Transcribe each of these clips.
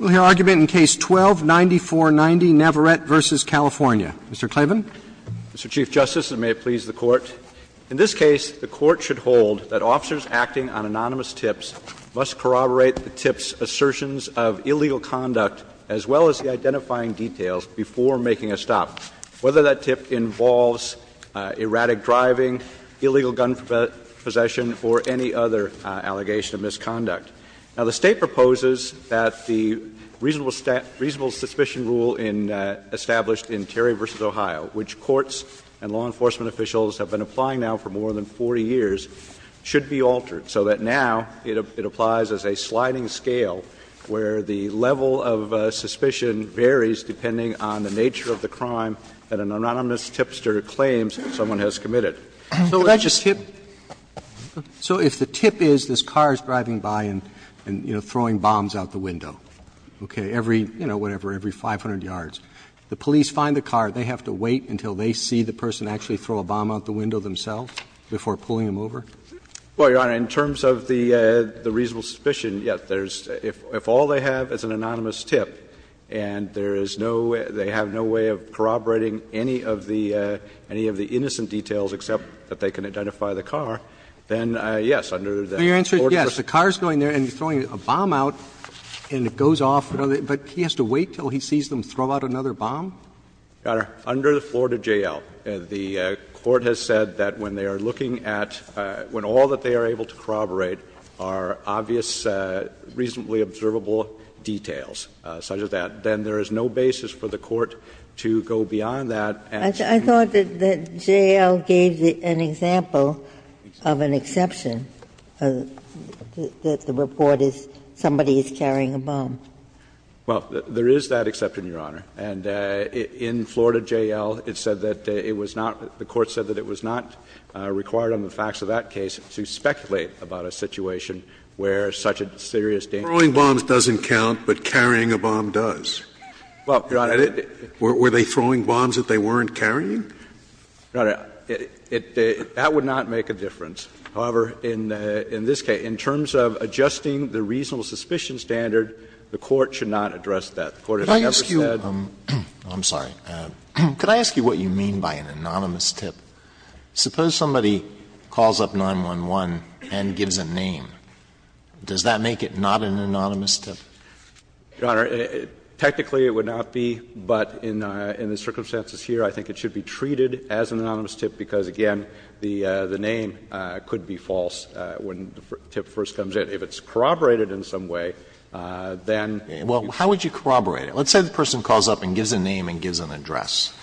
We'll hear argument in Case 12-9490, Navarette v. California. Mr. Clavin. Mr. Chief Justice, and may it please the Court, in this case, the Court should hold that officers acting on anonymous tips must corroborate the tips' assertions of illegal conduct, as well as the identifying details, before making a stop, whether that tip involves erratic driving, illegal gun possession, or any other allegation of misconduct. Now, the State proposes that the reasonable suspicion rule established in Terry v. Ohio, which courts and law enforcement officials have been applying now for more than 40 years, should be altered, so that now it applies as a sliding scale where the level of suspicion varies depending on the nature of the crime that an anonymous tipster claims someone has committed. Roberts So if the tip is this car is driving by and, you know, throwing bombs out the window, okay, every, you know, whatever, every 500 yards, the police find the car, they have to wait until they see the person actually throw a bomb out the window themselves before pulling them over? Well, Your Honor, in terms of the reasonable suspicion, yes, there's — if all they have is an anonymous tip and there is no — they have no way of corroborating any of the — any of the innocent details except that they can identify the car, then yes, under the Florida J.L. Roberts So your answer is yes, the car is going there and throwing a bomb out and it goes off, but he has to wait until he sees them throw out another bomb? Your Honor, under the Florida J.L., the Court has said that when they are looking at — when all that they are able to corroborate are obvious, reasonably observable details such as that, then there is no basis for the Court to go beyond that answer. I thought that J.L. gave an example of an exception, that the report is somebody is carrying a bomb. Well, there is that exception, Your Honor, and in Florida J.L., it said that it was not — the Court said that it was not required on the facts of that case to speculate about a situation where such a serious — Throwing bombs doesn't count, but carrying a bomb does. Well, Your Honor — Were they throwing bombs that they weren't carrying? Your Honor, that would not make a difference. However, in this case, in terms of adjusting the reasonable suspicion standard, the Court should not address that. The Court has never said — Could I ask you — I'm sorry. Could I ask you what you mean by an anonymous tip? Suppose somebody calls up 911 and gives a name. Does that make it not an anonymous tip? Your Honor, technically it would not be, but in the circumstances here, I think it should be treated as an anonymous tip because, again, the name could be false when the tip first comes in. If it's corroborated in some way, then — Well, how would you corroborate it? Let's say the person calls up and gives a name and gives an address.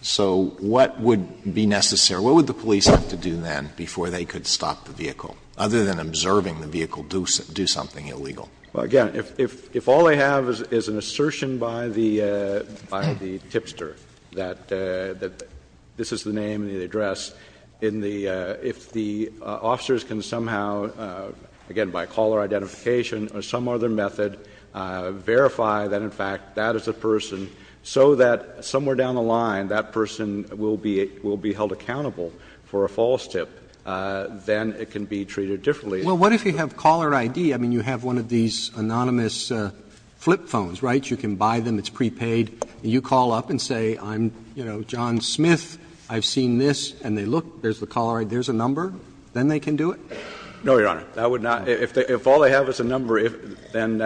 So what would be necessary? What would the police have to do then before they could stop the vehicle, other than observing the vehicle do something illegal? Well, again, if all they have is an assertion by the tipster that this is the name and the address, if the officers can somehow, again, by caller identification or some other method, verify that, in fact, that is the person, so that somewhere down the line that person will be held accountable for a false tip, then it can be treated differently. Well, what if you have caller ID? I mean, you have one of these anonymous flip phones, right? You can buy them, it's prepaid, and you call up and say, I'm, you know, John Smith, I've seen this, and they look, there's the caller ID, there's a number, then they can do it? No, Your Honor. That would not — if all they have is a number, then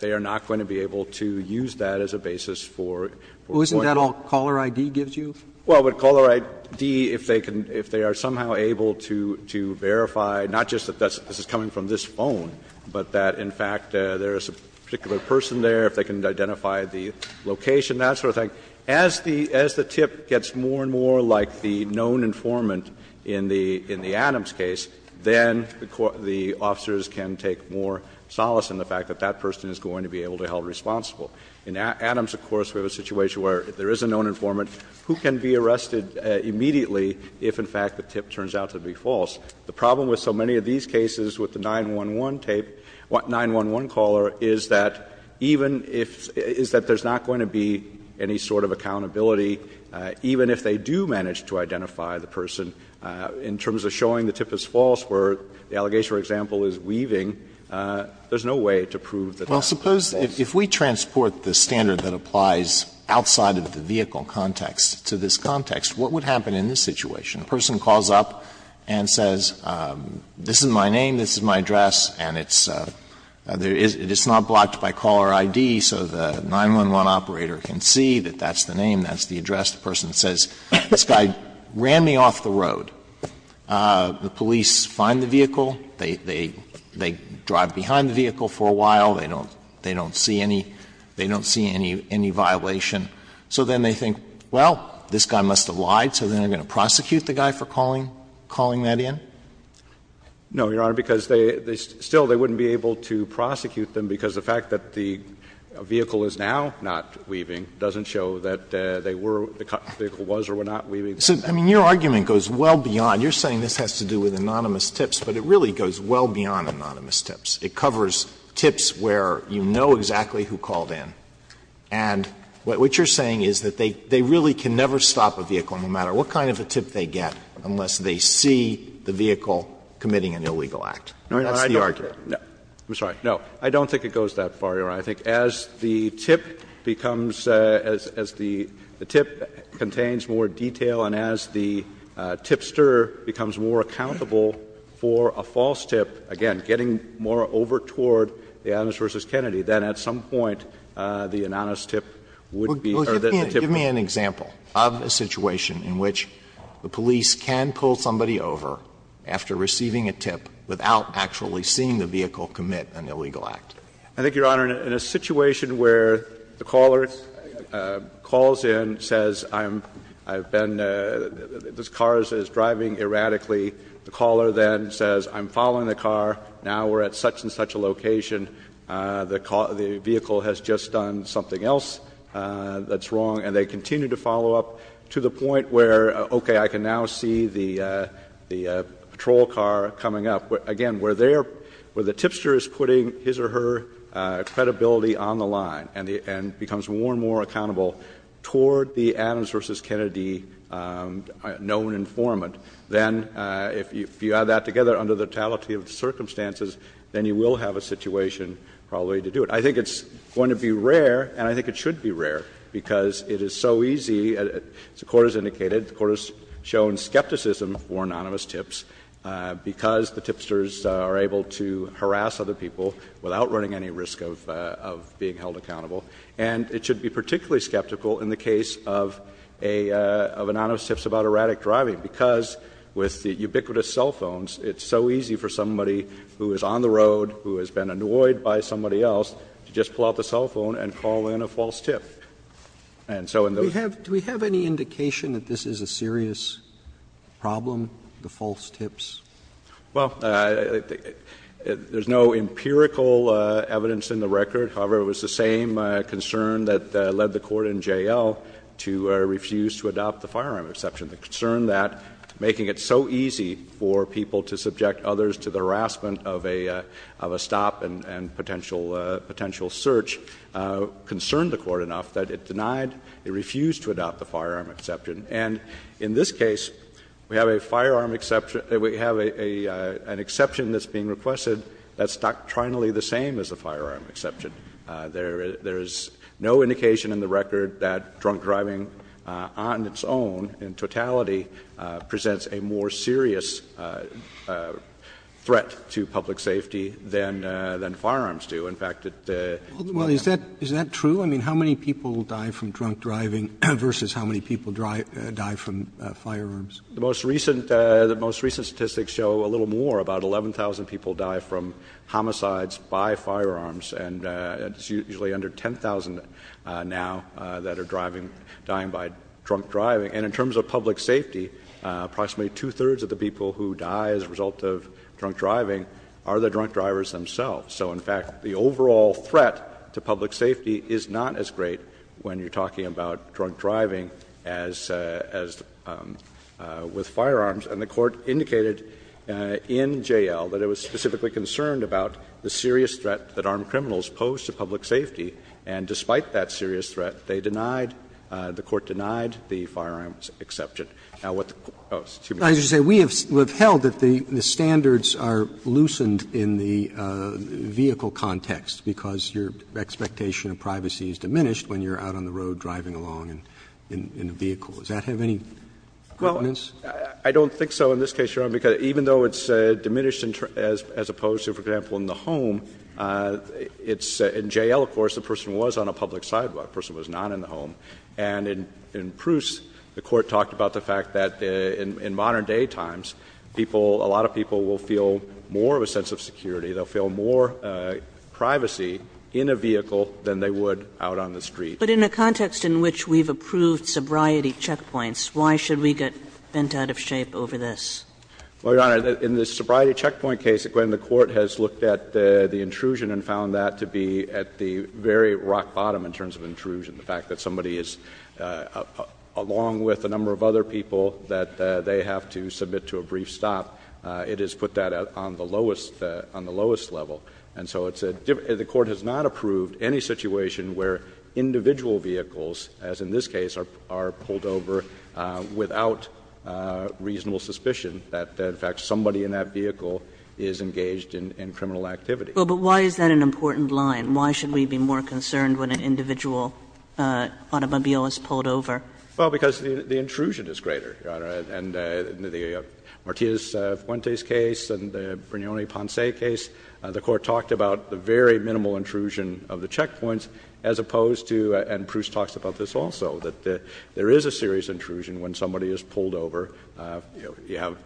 they are not going to be able to use that as a basis for pointing. Well, isn't that all caller ID gives you? Well, with caller ID, if they can — if they are somehow able to verify, not just that this is coming from this phone, but that, in fact, there is a particular person there, if they can identify the location, that sort of thing, as the tip gets more and more like the known informant in the Adams case, then the officers can take more solace in the fact that that person is going to be able to be held responsible. In Adams, of course, we have a situation where there is a known informant who can be arrested immediately if, in fact, the tip turns out to be false. The problem with so many of these cases with the 911 tape, 911 caller, is that even if — is that there's not going to be any sort of accountability, even if they do manage to identify the person, in terms of showing the tip is false, where the allegation, for example, is weaving, there's no way to prove that that's false. Alitoso, if we transport the standard that applies outside of the vehicle context to this context, what would happen in this situation? A person calls up and says, this is my name, this is my address, and it's not blocked by caller ID, so the 911 operator can see that that's the name, that's the address. The person says, this guy ran me off the road. The police find the vehicle, they drive behind the vehicle for a while, they don't see any violation. So then they think, well, this guy must have lied, so then they're going to prosecute the guy for calling that in? No, Your Honor, because they still wouldn't be able to prosecute them because the fact that the vehicle is now not weaving doesn't show that they were, the vehicle was or were not weaving. So, I mean, your argument goes well beyond, you're saying this has to do with anonymous tips, but it really goes well beyond anonymous tips. It covers tips where you know exactly who called in. And what you're saying is that they really can never stop a vehicle, no matter what kind of a tip they get, unless they see the vehicle committing an illegal act. That's the argument. No, I don't think it goes that far, Your Honor. I think as the tip becomes, as the tip contains more detail and as the tipster becomes more accountable for a false tip, again, getting more overt toward the Anonymous v. Kennedy, then at some point the anonymous tip would be, or the tip would be. Give me an example of a situation in which the police can pull somebody over after receiving a tip without actually seeing the vehicle commit an illegal act. I think, Your Honor, in a situation where the caller calls in, says I've been, this car is driving erratically, the caller then says I'm following the car, now we're at such and such a location, the vehicle has just done something else that's wrong and they continue to follow up to the point where, okay, I can now see the patrol car coming up. Again, where the tipster is putting his or her credibility on the line and becomes more and more accountable toward the Anonymous v. Kennedy known informant, then if you add that together under the totality of the circumstances, then you will have a situation probably to do it. I think it's going to be rare, and I think it should be rare, because it is so easy as the Court has indicated, the Court has shown skepticism for anonymous tips because the tipsters are able to harass other people without running any risk of being held accountable, and it should be particularly skeptical in the case of a, of anonymous tips about erratic driving, because with the ubiquitous cell phones, it's so easy for somebody who is on the road, who has been annoyed by somebody else, to be able to just pull out the cell phone and call in a false tip. And so in those cases. Roberts Do we have any indication that this is a serious problem, the false tips? Well, there's no empirical evidence in the record. However, it was the same concern that led the Court in J.L. to refuse to adopt the firearm exception, the concern that making it so easy for people to subject others to the harassment of a, of a stop and, and potential, potential search concerned the Court enough that it denied, it refused to adopt the firearm exception. And in this case, we have a firearm exception, we have a, a, an exception that's being requested that's doctrinally the same as a firearm exception. There, there is no indication in the record that drunk driving on its own in totality presents a more serious threat to public safety than, than firearms do. In fact, it, it's more than that. Well, is that, is that true? I mean, how many people die from drunk driving versus how many people die from firearms? The most recent, the most recent statistics show a little more, about 11,000 people die from homicides by firearms, and it's usually under 10,000 now that are driving, dying by drunk driving. And in terms of public safety, approximately two-thirds of the people who die as a result of drunk driving are the drunk drivers themselves. So in fact, the overall threat to public safety is not as great when you're talking about drunk driving as, as with firearms. And the Court indicated in J.L. that it was specifically concerned about the serious threat that armed criminals pose to public safety, and despite that serious threat, they denied, the Court denied the firearms exception. Now, what the Court, oh, excuse me. Roberts, we have, we have held that the, the standards are loosened in the vehicle context, because your expectation of privacy is diminished when you're out on the road driving along in, in a vehicle. Does that have any competence? Well, I don't think so in this case, Your Honor, because even though it's diminished as, as opposed to, for example, in the home, it's, in J.L., of course, the person was on a public sidewalk, the person was not in the home. And in, in Proust, the Court talked about the fact that in, in modern daytimes, people, a lot of people will feel more of a sense of security. They'll feel more privacy in a vehicle than they would out on the street. But in a context in which we've approved sobriety checkpoints, why should we get bent out of shape over this? Well, Your Honor, in the sobriety checkpoint case, again, the Court has looked at the very rock bottom in terms of intrusion, the fact that somebody is, along with a number of other people, that they have to submit to a brief stop. It has put that on the lowest, on the lowest level. And so it's a, the Court has not approved any situation where individual vehicles, as in this case, are, are pulled over without reasonable suspicion that, in fact, somebody in that vehicle is engaged in, in criminal activity. Well, but why is that an important line? Why should we be more concerned when an individual automobile is pulled over? Well, because the, the intrusion is greater, Your Honor. And in the, in the Martínez-Fuentes case and the Brignone-Ponce case, the Court talked about the very minimal intrusion of the checkpoints, as opposed to, and Proust talks about this also, that there is a serious intrusion when somebody is pulled over, you know, you have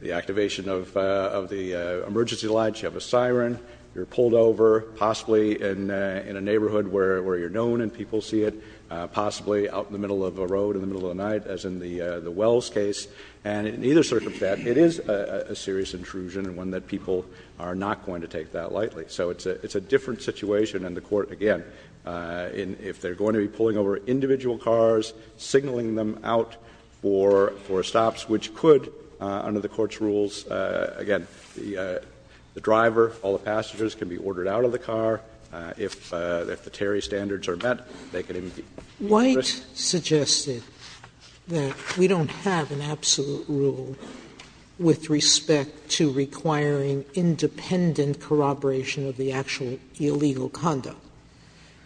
the activation of, of the emergency lights, you have a siren, you're pulled over, possibly in, in a neighborhood where, where you're known and people see it, possibly out in the middle of a road in the middle of the night, as in the, the Wells case, and in either circumstance, it is a, a serious intrusion and one that people are not going to take that lightly. So it's a, it's a different situation, and the Court, again, in, if they're going to be pulling over individual cars, signaling them out for, for stops, which could, under the Court's rules, again, the, the driver, all the passengers, can be ordered out of the car. If, if the Terry standards are met, they could indeed be put at risk. Sotomayor, White suggested that we don't have an absolute rule with respect to requiring independent corroboration of the actual illegal conduct.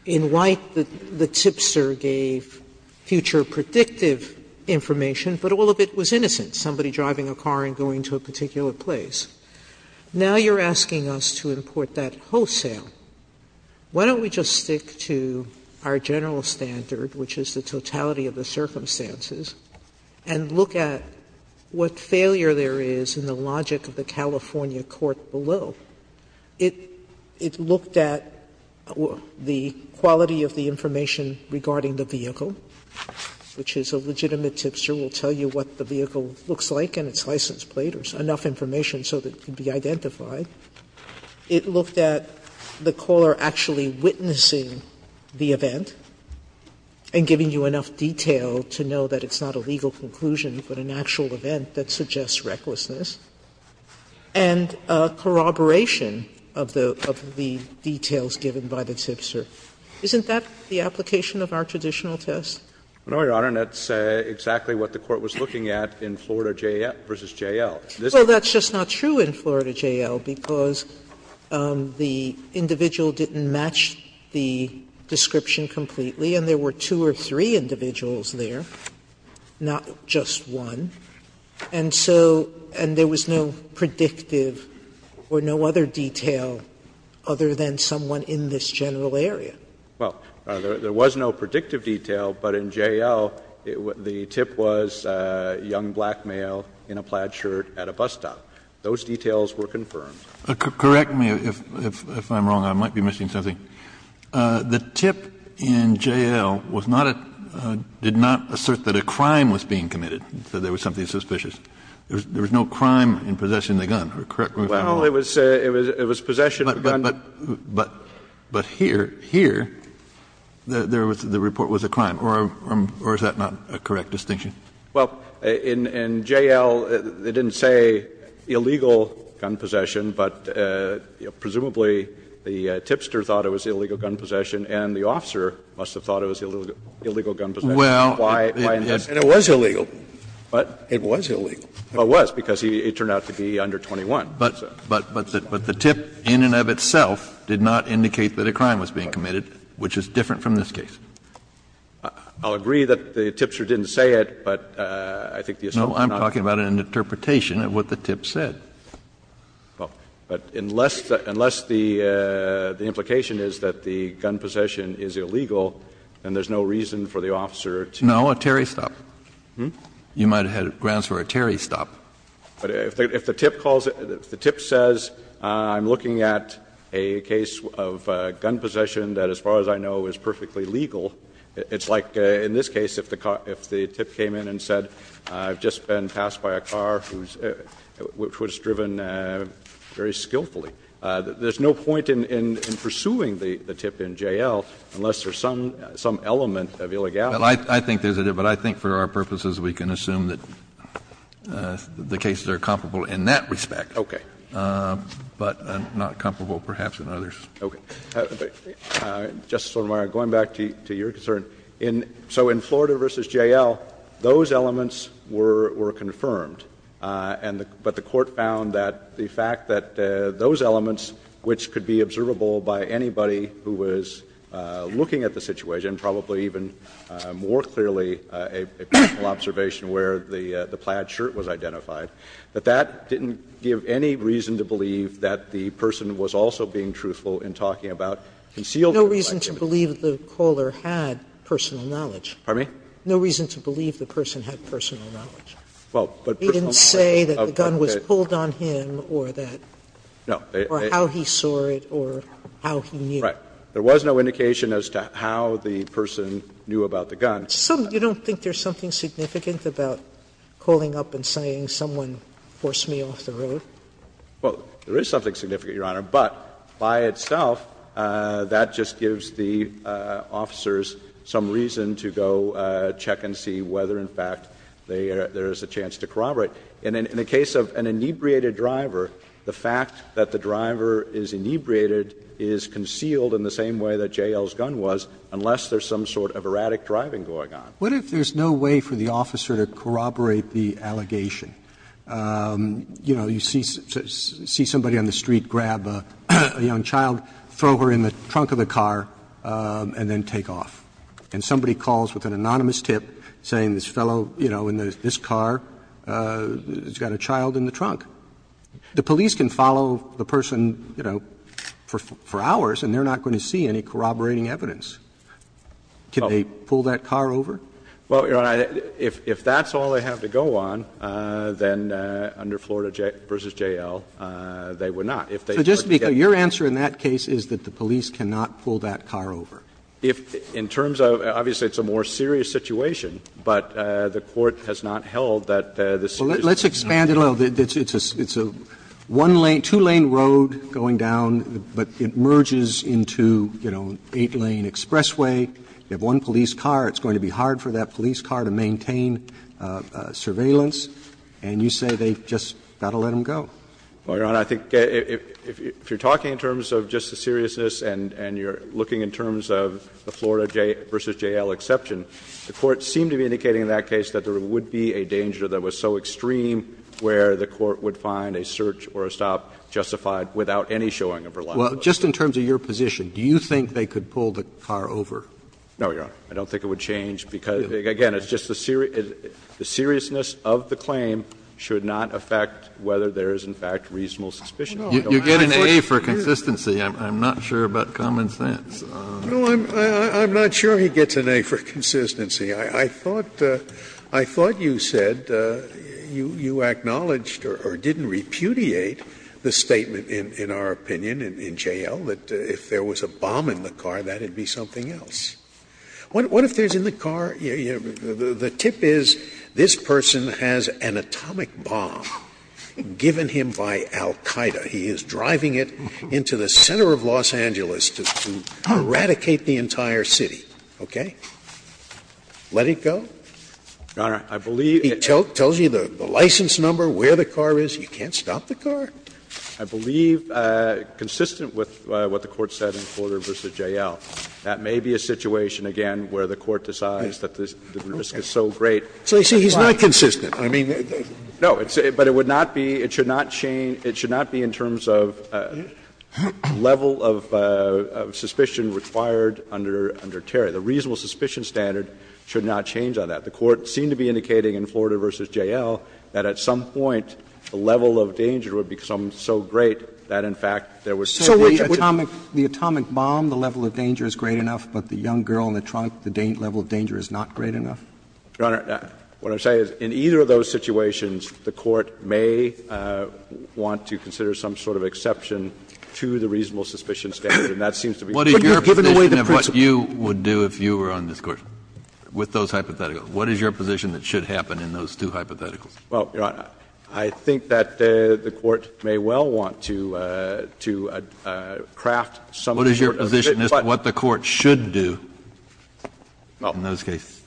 In White, the, the tipster gave future predictive information, but all of it was innocent. Somebody driving a car and going to a particular place. Now you're asking us to import that wholesale. Why don't we just stick to our general standard, which is the totality of the circumstances, and look at what failure there is in the logic of the California court below. It, it looked at the quality of the information regarding the vehicle, which is a legitimate The tipster will tell you what the vehicle looks like and its license plate, or enough information so that it can be identified. It looked at the caller actually witnessing the event and giving you enough detail to know that it's not a legal conclusion, but an actual event that suggests recklessness, and corroboration of the, of the details given by the tipster. Isn't that the application of our traditional test? No, Your Honor, and that's exactly what the court was looking at in Florida JL versus JL. This is a Well, that's just not true in Florida JL, because the individual didn't match the description completely, and there were two or three individuals there, not just one. And so, and there was no predictive or no other detail other than someone in this general area. Well, there was no predictive detail, but in JL, the tip was a young black male in a plaid shirt at a bus stop. Those details were confirmed. Correct me if I'm wrong. I might be missing something. The tip in JL was not a, did not assert that a crime was being committed, that there was something suspicious. There was no crime in possession of the gun. Correct me if I'm wrong. Well, it was possession of the gun. But here, here, the report was a crime, or is that not a correct distinction? Well, in JL, it didn't say illegal gun possession, but presumably the tipster thought it was illegal gun possession and the officer must have thought it was illegal gun possession. Well, and it was illegal. What? It was illegal. Well, it was, because it turned out to be under 21. But the tip in and of itself did not indicate that a crime was being committed, which is different from this case. I'll agree that the tipster didn't say it, but I think the assaulter not. No, I'm talking about an interpretation of what the tip said. Well, but unless the implication is that the gun possession is illegal, then there's no reason for the officer to. No, a Terry stop. You might have had grounds for a Terry stop. But if the tip calls it – if the tip says I'm looking at a case of gun possession that, as far as I know, is perfectly legal, it's like in this case, if the tip came in and said I've just been passed by a car who's – which was driven very skillfully. There's no point in pursuing the tip in JL unless there's some element of illegality. Well, I think there's a – but I think for our purposes we can assume that the cases are comparable in that respect. Okay. But not comparable, perhaps, in others. Okay. Justice Sotomayor, going back to your concern, in – so in Florida v. JL, those elements were confirmed, and the – but the Court found that the fact that those elements, which could be observable by anybody who was looking at the situation, and probably even more clearly a personal observation where the plaid shirt was identified, that that didn't give any reason to believe that the person was also being truthful in talking about concealed – No reason to believe the caller had personal knowledge. Pardon me? No reason to believe the person had personal knowledge. Well, but personal knowledge of – okay. He didn't say that the gun was pulled on him or that – or how he saw it or how he knew. Right. There was no indication as to how the person knew about the gun. Some – you don't think there's something significant about calling up and saying someone forced me off the road? Well, there is something significant, Your Honor, but by itself that just gives the officers some reason to go check and see whether, in fact, they – there is a chance to corroborate. And in the case of an inebriated driver, the fact that the driver is inebriated is concealed in the same way that J.L.'s gun was, unless there's some sort of erratic driving going on. What if there's no way for the officer to corroborate the allegation? You know, you see somebody on the street grab a young child, throw her in the trunk of the car, and then take off. And somebody calls with an anonymous tip saying this fellow, you know, in this car has got a child in the trunk. The police can follow the person, you know, for hours and they're not going to see any corroborating evidence. Can they pull that car over? Well, Your Honor, if that's all they have to go on, then under Florida v. J.L., If they were to get the car over. So just to be clear, your answer in that case is that the police cannot pull that car over? If – in terms of – obviously, it's a more serious situation, but the Court has not held that this is a serious situation. Well, let's expand it a little bit. It's a one-lane, two-lane road going down, but it merges into, you know, an eight-lane expressway. You have one police car. It's going to be hard for that police car to maintain surveillance. And you say they just got to let them go. Well, Your Honor, I think if you're talking in terms of just the seriousness and you're looking in terms of the Florida v. J.L. exception, the Court seemed to be in an extreme where the Court would find a search or a stop justified without any showing of reluctance. Well, just in terms of your position, do you think they could pull the car over? No, Your Honor. I don't think it would change because, again, it's just the seriousness of the claim should not affect whether there is, in fact, reasonable suspicion. You get an A for consistency. I'm not sure about common sense. No, I'm not sure he gets an A for consistency. I thought you said you acknowledged or didn't repudiate the statement, in our opinion, in J.L., that if there was a bomb in the car, that would be something else. What if there's in the car the tip is this person has an atomic bomb given him by Al-Qaeda. He is driving it into the center of Los Angeles to eradicate the entire city, okay? Let it go? Your Honor, I believe it's not. He tells you the license number, where the car is. You can't stop the car? I believe consistent with what the Court said in Porter v. J.L., that may be a situation, again, where the Court decides that the risk is so great. So you say he's not consistent. I mean, there's no reason. No, but it would not be – it should not change – it should not be in terms of level of suspicion required under Terry. The reasonable suspicion standard should not change on that. The Court seemed to be indicating in Florida v. J.L. that at some point the level of danger would become so great that, in fact, there was so great a chance. So the atomic bomb, the level of danger is great enough, but the young girl in the trunk, the level of danger is not great enough? Your Honor, what I'm saying is in either of those situations, the Court may want to consider some sort of exception to the reasonable suspicion standard. And that seems to be the case. But you're giving away the principle. Kennedy, what is your position of what you would do if you were on this Court with those hypotheticals? What is your position that should happen in those two hypotheticals? Well, Your Honor, I think that the Court may well want to craft some sort of a bit more. What is your position as to what the Court should do in those cases?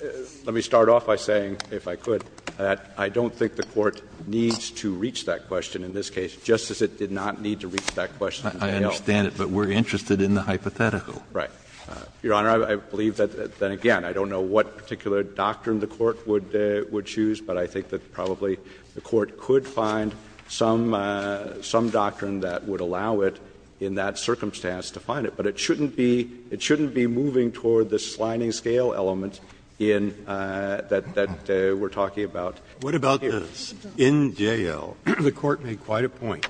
Well, let me start off by saying, if I could, that I don't think the Court needs to reach that question in this case, just as it did not need to reach that question in J.L. I understand it, but we're interested in the hypothetical. Right. Your Honor, I believe that, again, I don't know what particular doctrine the Court would choose, but I think that probably the Court could find some doctrine that would allow it in that circumstance to find it. But it shouldn't be moving toward the sliding scale element in that we're talking about here. Breyer, what about this? In J.L., the Court made quite a point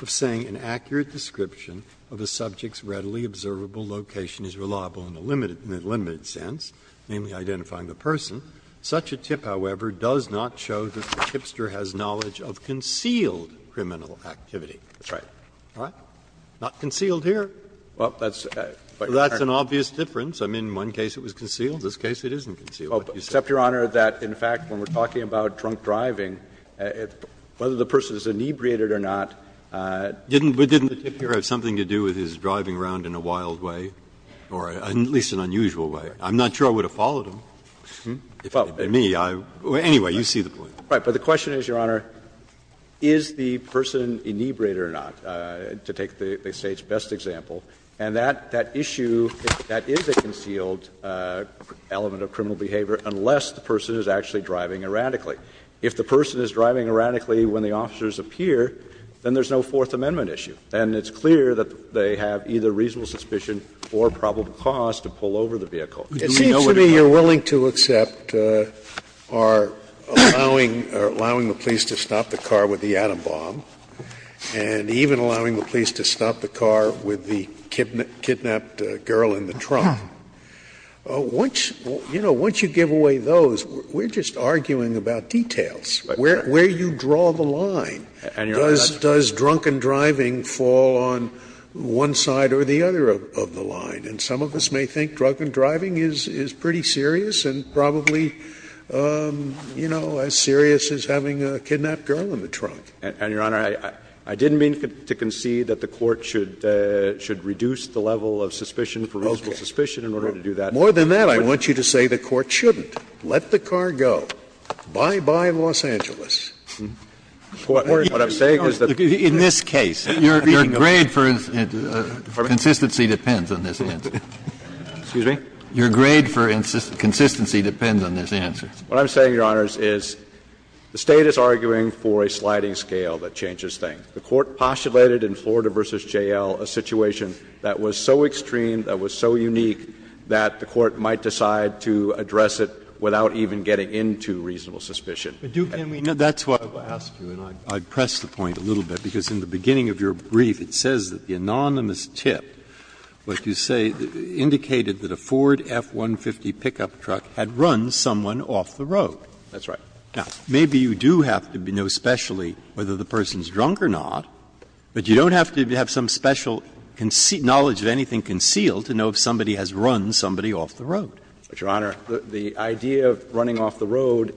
of saying an accurate description of a subject's readily observable location is reliable in a limited sense, namely, identifying the person. Such a tip, however, does not show that the tipster has knowledge of concealed criminal activity. That's right. What? Not concealed here. Well, that's an obvious difference. I mean, in one case it was concealed, in this case it isn't concealed. Except, Your Honor, that in fact when we're talking about drunk driving, whether the person is inebriated or not, the tip here is not concealed. Didn't the tip here have something to do with his driving around in a wild way, or at least an unusual way? I'm not sure I would have followed him. If I had been me, I would have. Anyway, you see the point. Right. But the question is, Your Honor, is the person inebriated or not, to take the State's best example. And that issue, that is a concealed element of criminal behavior, unless the person is actually driving erratically. If the person is driving erratically when the officers appear, then there's no Fourth Amendment issue. And it's clear that they have either reasonable suspicion or probable cause to pull over the vehicle. Do we know what it is? It seems to me you're willing to accept our allowing the police to stop the car with the kidnapped girl in the trunk. Once, you know, once you give away those, we're just arguing about details. Where do you draw the line? Does drunken driving fall on one side or the other of the line? And some of us may think drunken driving is pretty serious and probably, you know, as serious as having a kidnapped girl in the trunk. And, Your Honor, I didn't mean to concede that the Court should reduce the level of suspicion for reasonable suspicion in order to do that. More than that, I want you to say the Court shouldn't. Let the car go. Bye-bye, Los Angeles. What I'm saying is that the State is arguing for a sliding scale, and the State is arguing for a sliding scale. The State is arguing for a sliding scale that changes things. The Court postulated in Florida v. J.L. a situation that was so extreme, that was so unique, that the Court might decide to address it without even getting into reasonable suspicion. Breyer, that's what I would ask you, and I would press the point a little bit, because in the beginning of your brief it says that the anonymous tip, what you say, indicated that a Ford F-150 pickup truck had run someone off the road. That's right. Now, maybe you do have to know specially whether the person's drunk or not, but you don't have to have some special knowledge of anything concealed to know if somebody has run somebody off the road. But, Your Honor, the idea of running off the road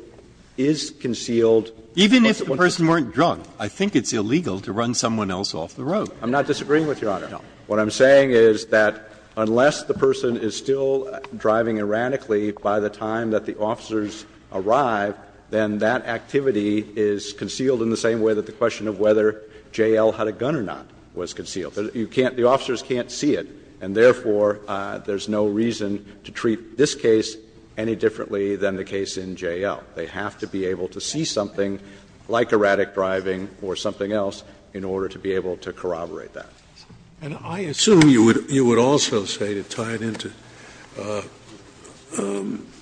is concealed. Even if the person weren't drunk, I think it's illegal to run someone else off the road. I'm not disagreeing with you, Your Honor. No. What I'm saying is that unless the person is still driving erratically by the time that the officers arrive, then that activity is concealed in the same way that the question of whether J.L. had a gun or not was concealed. You can't – the officers can't see it, and therefore, there's no reason to treat this case any differently than the case in J.L. They have to be able to see something like erratic driving or something else in order to be able to corroborate that. Scalia. And I assume you would also say, to tie it into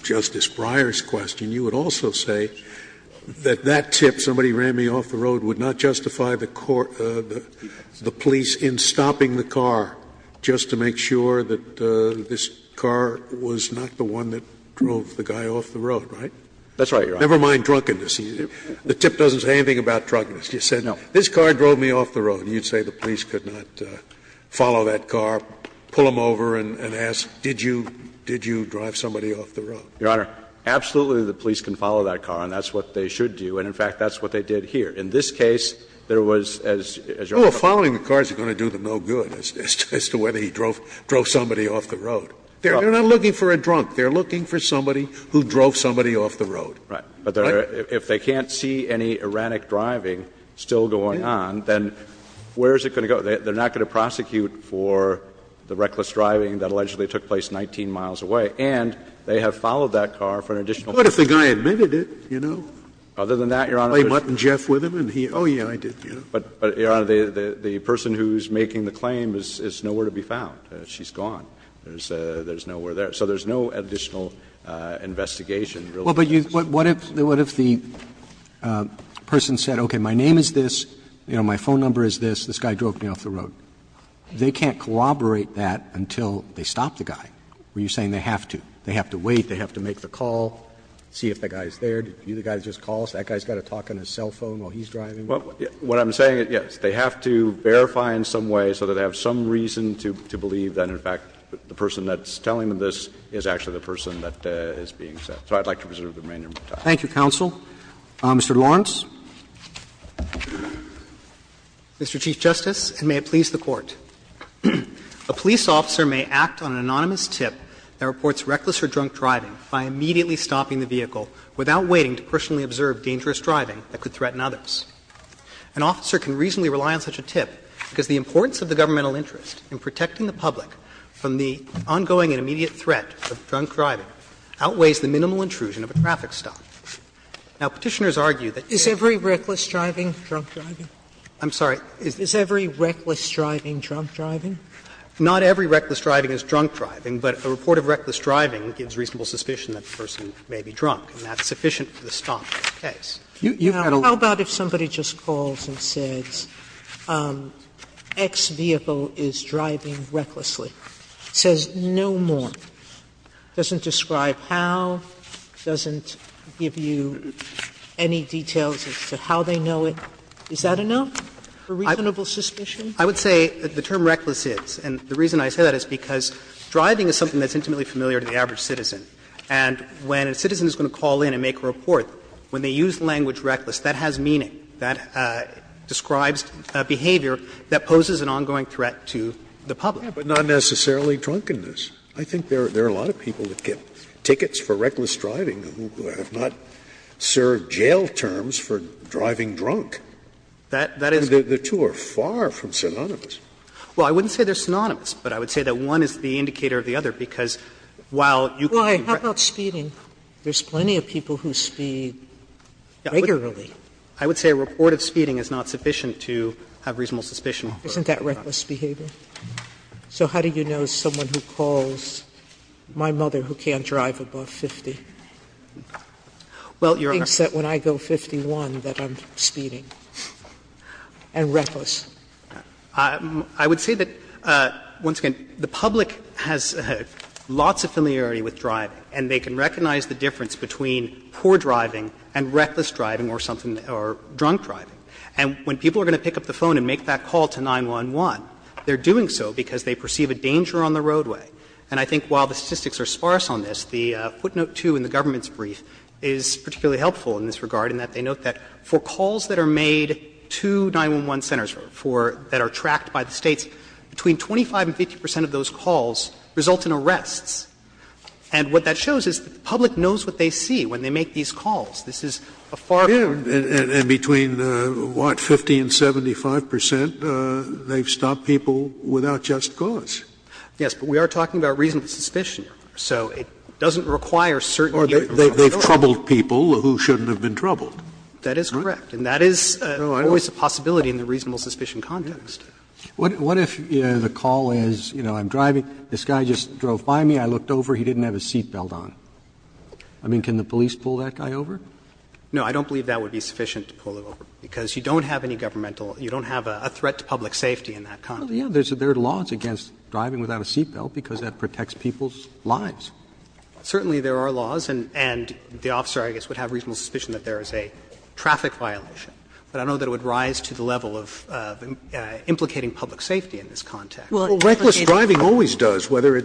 Justice Breyer's question, you would also say that that tip, somebody ran me off the road, would not justify the police in stopping the car just to make sure that this car was not the one that drove the guy off the road, right? That's right, Your Honor. Never mind drunkenness. The tip doesn't say anything about drunkenness. It just said, this car drove me off the road. And you'd say the police could not follow that car, pull him over and ask, did you drive somebody off the road? Your Honor, absolutely, the police can follow that car, and that's what they should do, and in fact, that's what they did here. In this case, there was, as Your Honor said. Well, following the car is going to do them no good as to whether he drove somebody off the road. They're not looking for a drunk. They're looking for somebody who drove somebody off the road. Right. But if they can't see any erratic driving still going on, then where is it going to go? They're not going to prosecute for the reckless driving that allegedly took place 19 miles away. And they have followed that car for an additional 15 minutes. But what if the guy admitted it, you know? Other than that, Your Honor, it was just. Played mutton Jeff with him, and he, oh, yeah, I did, yeah. But, Your Honor, the person who's making the claim is nowhere to be found. She's gone. There's nowhere there. So there's no additional investigation related to this. Roberts What if the person said, okay, my name is this, you know, my phone number is this, this guy drove me off the road? They can't corroborate that until they stop the guy. Are you saying they have to? They have to wait, they have to make the call, see if the guy is there. Did you see the guy who just called? That guy's got to talk on his cell phone while he's driving? What I'm saying is, yes, they have to verify in some way so that they have some reason to believe that, in fact, the person that's telling them this is actually the person that is being set. So I'd like to preserve the remainder of my time. Roberts Thank you, counsel. Mr. Lawrence. Lawrence Mr. Chief Justice, and may it please the Court. A police officer may act on an anonymous tip that reports reckless or drunk driving by immediately stopping the vehicle without waiting to personally observe dangerous driving that could threaten others. An officer can reasonably rely on such a tip because the importance of the governmental interest in protecting the public from the ongoing and immediate threat of drunk driving outweighs the minimal intrusion of a traffic stop. Now, Petitioners argue that if you're going to stop a vehicle, you're going to stop it. Sotomayor Is every reckless driving drunk driving? Lawrence I'm sorry. Sotomayor Is every reckless driving drunk driving? Lawrence Not every reckless driving is drunk driving, but a report of reckless driving gives reasonable suspicion that the person may be drunk, and that's sufficient for the stop in this case. You've had a lot of cases where that's been the case. Sotomayor How about if somebody just calls and says X vehicle is driving recklessly, says no more. Doesn't describe how, doesn't give you any details as to how they know it. Is that enough for reasonable suspicion? Lawrence I would say the term reckless is, and the reason I say that is because driving is something that's intimately familiar to the average citizen. And when a citizen is going to call in and make a report, when they use the language reckless, that has meaning. That describes behavior that poses an ongoing threat to the public. Scalia But not necessarily drunkenness. I think there are a lot of people that get tickets for reckless driving who have not served jail terms for driving drunk. The two are far from synonymous. Lawrence Well, I wouldn't say they're synonymous, but I would say that one is the indicator of the other, because while you can correct. Sotomayor Why? How about speeding? There's plenty of people who speed regularly. Lawrence I would say a report of speeding is not sufficient to have reasonable suspicion of reckless driving. Sotomayor Isn't that reckless behavior? So how do you know someone who calls my mother, who can't drive above 50, thinks that when I go 51 that I'm speeding, and reckless? Lawrence I would say that, once again, the public has lots of familiarity with driving, and they can recognize the difference between poor driving and reckless driving or drunk driving. And when people are going to pick up the phone and make that call to 911, they're doing so because they perceive a danger on the roadway. And I think while the statistics are sparse on this, the footnote 2 in the government's brief is particularly helpful in this regard in that they note that for calls that are made to 911 centers for that are tracked by the States, between 25 and 50 percent of those calls result in arrests. And what that shows is the public knows what they see when they make these calls. This is a far greater risk. Scalia And between, what, 50 and 75 percent, they've stopped people without just cause. Lawrence Yes, but we are talking about reasonable suspicion here. So it doesn't require certain data. Scalia Or they've troubled people who shouldn't have been troubled. Lawrence That is correct. And that is always a possibility in the reasonable suspicion context. Roberts What if the call is, you know, I'm driving, this guy just drove by me, I looked over, he didn't have his seat belt on? I mean, can the police pull that guy over? Lawrence No, I don't believe that would be sufficient to pull it over, because you don't have any governmental – you don't have a threat to public safety in that context. Roberts Well, yes, there are laws against driving without a seat belt because that protects people's lives. Lawrence Certainly there are laws, and the officer, I guess, would have reasonable suspicion that there is a traffic violation. But I don't know that it would rise to the level of implicating public safety in this context. Scalia Well, reckless driving always does, whether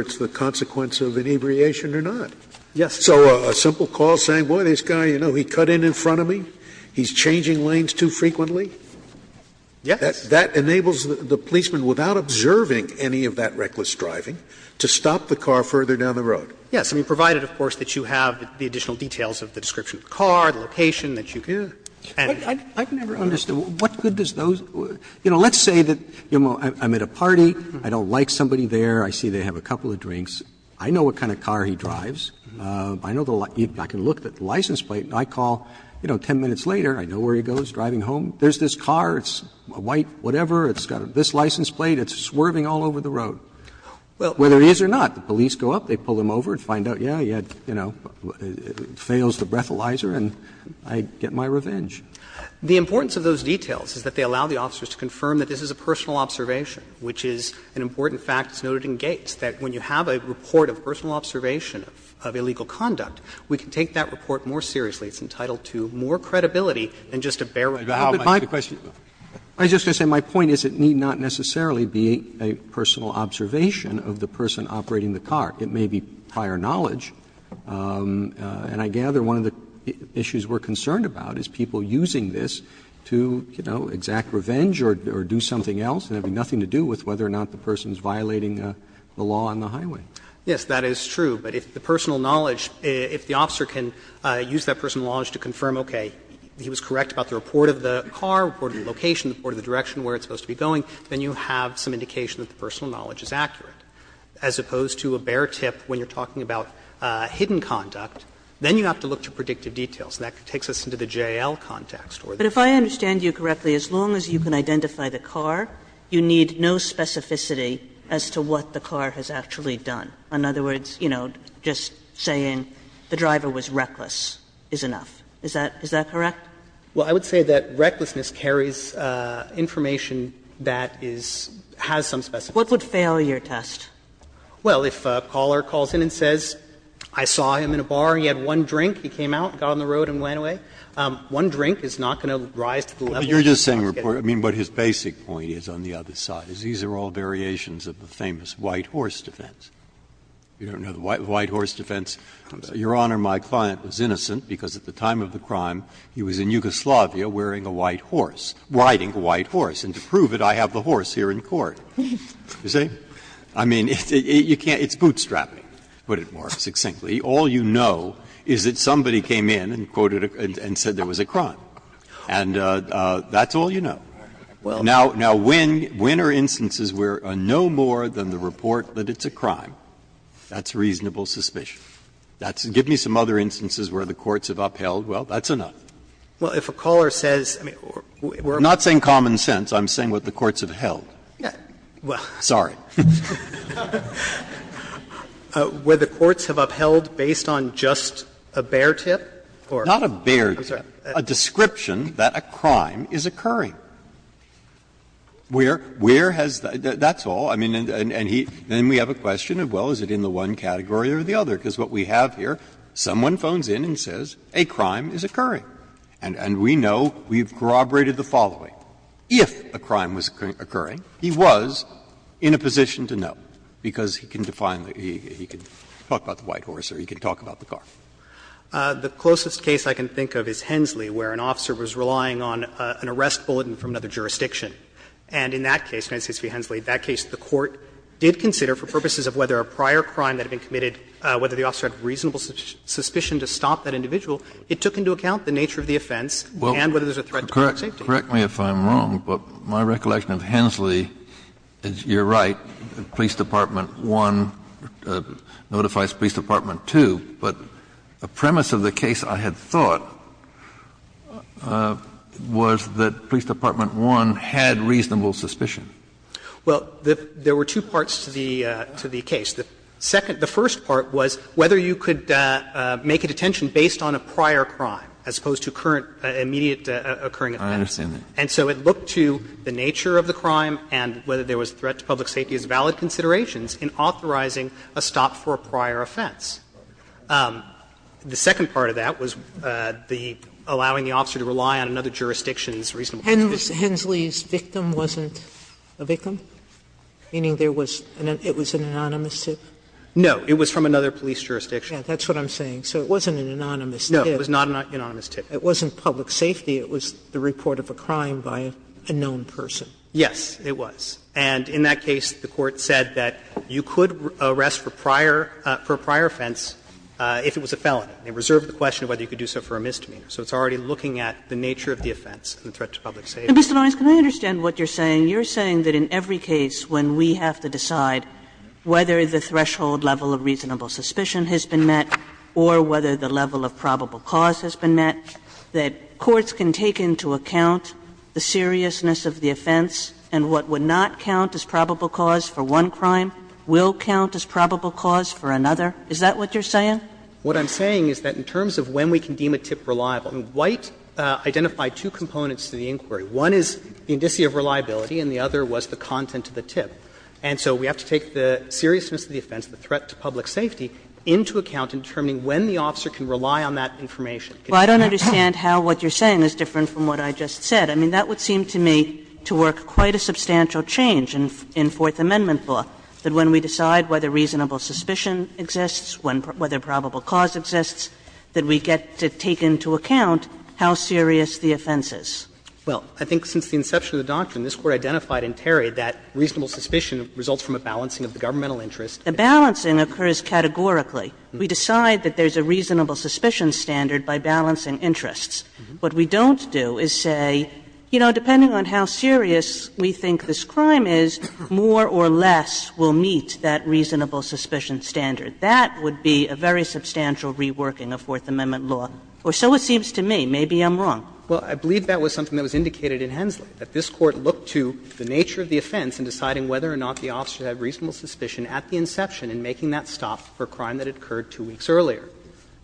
it's the consequence of inebriation or not. Lawrence Yes. Scalia So a simple call saying, boy, this guy, you know, he cut in in front of me, he's changing lanes too frequently? Lawrence Yes. Scalia That enables the policeman, without observing any of that reckless driving, to stop the car further down the road. Lawrence Yes, provided, of course, that you have the additional details of the description of the car, the location that you can. Roberts I've never understood. What good does those – you know, let's say that I'm at a party, I don't like somebody there, I see they have a couple of drinks, I know what kind of car he drives. I can look at the license plate and I call, you know, 10 minutes later, I know where he goes, driving home, there's this car, it's white, whatever, it's got this license plate, it's swerving all over the road. Whether it is or not, the police go up, they pull him over and find out, yeah, he had – you know, fails the breathalyzer and I get my revenge. Lawrence The importance of those details is that they allow the officers to confirm that this is a personal observation, which is an important fact that's noted in Gates, that when you have a report of personal observation of illegal conduct, we can take that report more seriously. It's entitled to more credibility than just a bare record. Roberts I was just going to say my point is it need not necessarily be a personal observation of the person operating the car. It may be prior knowledge. And I gather one of the issues we're concerned about is people using this to, you know, exact revenge or do something else and have nothing to do with whether or not the person is violating the law on the highway. Lawrence Yes, that is true. But if the personal knowledge, if the officer can use that personal knowledge to confirm, okay, he was correct about the report of the car, report of the location, report of the direction, where it's supposed to be going, then you have some indication that the personal knowledge is accurate. As opposed to a bare tip when you're talking about hidden conduct, then you have to look to predictive details. And that takes us into the J.L. context. Kagan But if I understand you correctly, as long as you can identify the car, you need no specificity as to what the car has actually done. In other words, you know, just saying the driver was reckless is enough. Is that correct? Lawrence Well, I would say that recklessness carries information that is, has some specificity. Kagan What would fail your test? Lawrence Well, if a caller calls in and says, I saw him in a bar and he had one drink, he came out, got on the road and went away, one drink is not going to rise to the level that he wants to get. Breyer I mean, what his basic point is on the other side is these are all variations of the famous white horse defense. You don't know the white horse defense. Your Honor, my client was innocent because at the time of the crime, he was in Yugoslavia wearing a white horse, riding a white horse. And to prove it, I have the horse here in court. You see? I mean, you can't — it's bootstrapping, to put it more succinctly. All you know is that somebody came in and quoted a — and said there was a crime. And that's all you know. Now, when are instances where no more than the report that it's a crime, that's reasonable suspicion? Give me some other instances where the courts have upheld, well, that's enough. Lawrence Well, if a caller says — Breyer I'm not saying common sense. I'm saying what the courts have held. Sorry. Lawrence Where the courts have upheld based on just a bare tip or — Breyer a description that a crime is occurring. Where has the — that's all. I mean, and he — then we have a question of, well, is it in the one category or the other? Because what we have here, someone phones in and says a crime is occurring. And we know we've corroborated the following. If a crime was occurring, he was in a position to know, because he can define the — he can talk about the white horse or he can talk about the car. The closest case I can think of is Hensley, where an officer was relying on an arrest bulletin from another jurisdiction. And in that case, United States v. Hensley, that case the court did consider for purposes of whether a prior crime that had been committed, whether the officer had reasonable suspicion to stop that individual, it took into account the nature of the offense and whether there's a threat to public safety. Kennedy Correct me if I'm wrong, but my recollection of Hensley is you're right, Police Department 1 notifies Police Department 2, but the premise of the case, I had thought, was that Police Department 1 had reasonable suspicion. Well, there were two parts to the case. The second — the first part was whether you could make a detention based on a prior crime, as opposed to current — immediate occurring offense. And so it looked to the nature of the crime and whether there was a threat to public safety as valid considerations in authorizing a stop for a prior offense. The second part of that was the — allowing the officer to rely on another jurisdiction's reasonable suspicion. Sotomayor Hensley's victim wasn't a victim, meaning there was — it was an anonymous tip? No. It was from another police jurisdiction. Sotomayor That's what I'm saying. So it wasn't an anonymous tip. Katyal No, it was not an anonymous tip. Sotomayor It wasn't public safety. It was the report of a crime by a known person. Katyal Yes, it was. And in that case, the Court said that you could arrest for prior — for a prior offense if it was a felony. It reserved the question of whether you could do so for a misdemeanor. So it's already looking at the nature of the offense and the threat to public safety. Kagan Mr. Lawrence, can I understand what you're saying? You're saying that in every case when we have to decide whether the threshold level of reasonable suspicion has been met or whether the level of probable cause has been met, that courts can take into account the seriousness of the offense and what would not count as probable cause for one crime will count as probable cause for another? Is that what you're saying? Lawrence What I'm saying is that in terms of when we can deem a tip reliable, White identified two components to the inquiry. One is the indicia of reliability and the other was the content of the tip. And so we have to take the seriousness of the offense, the threat to public safety, into account in determining when the officer can rely on that information. Kagan Well, I don't understand how what you're saying is different from what I just said. I mean, that would seem to me to work quite a substantial change in Fourth Amendment law, that when we decide whether reasonable suspicion exists, whether probable cause exists, that we get to take into account how serious the offense is. Lawrence Well, I think since the inception of the doctrine, this Court identified in Terry that reasonable suspicion results from a balancing of the governmental interest. Kagan A balancing occurs categorically. We decide that there's a reasonable suspicion standard by balancing interests. What we don't do is say, you know, depending on how serious we think this crime is, more or less will meet that reasonable suspicion standard. That would be a very substantial reworking of Fourth Amendment law. Or so it seems to me. Maybe I'm wrong. Lawrence Well, I believe that was something that was indicated in Hensley, that this Court looked to the nature of the offense in deciding whether or not the officer had reasonable suspicion at the inception in making that stop for a crime that had occurred two weeks earlier.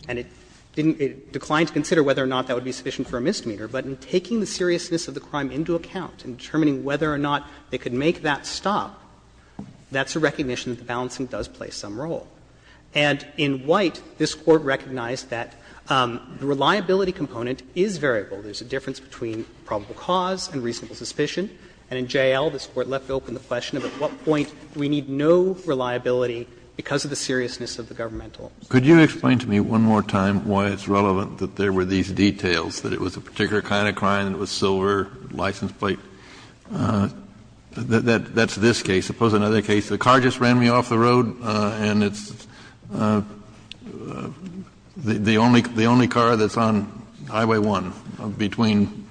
And it didn't decline to consider whether or not that would be sufficient for a misdemeanor. But in taking the seriousness of the crime into account, in determining whether or not they could make that stop, that's a recognition that the balancing does play some role. And in White, this Court recognized that the reliability component is variable. There's a difference between probable cause and reasonable suspicion. And in J.L., this Court left open the question of at what point do we need no reliability because of the seriousness of the governmental? Kennedy Could you explain to me one more time why it's relevant that there were these details, that it was a particular kind of crime, that it was silver, license plate? That's this case. Suppose another case, the car just ran me off the road and it's the only car that's on Highway 1 between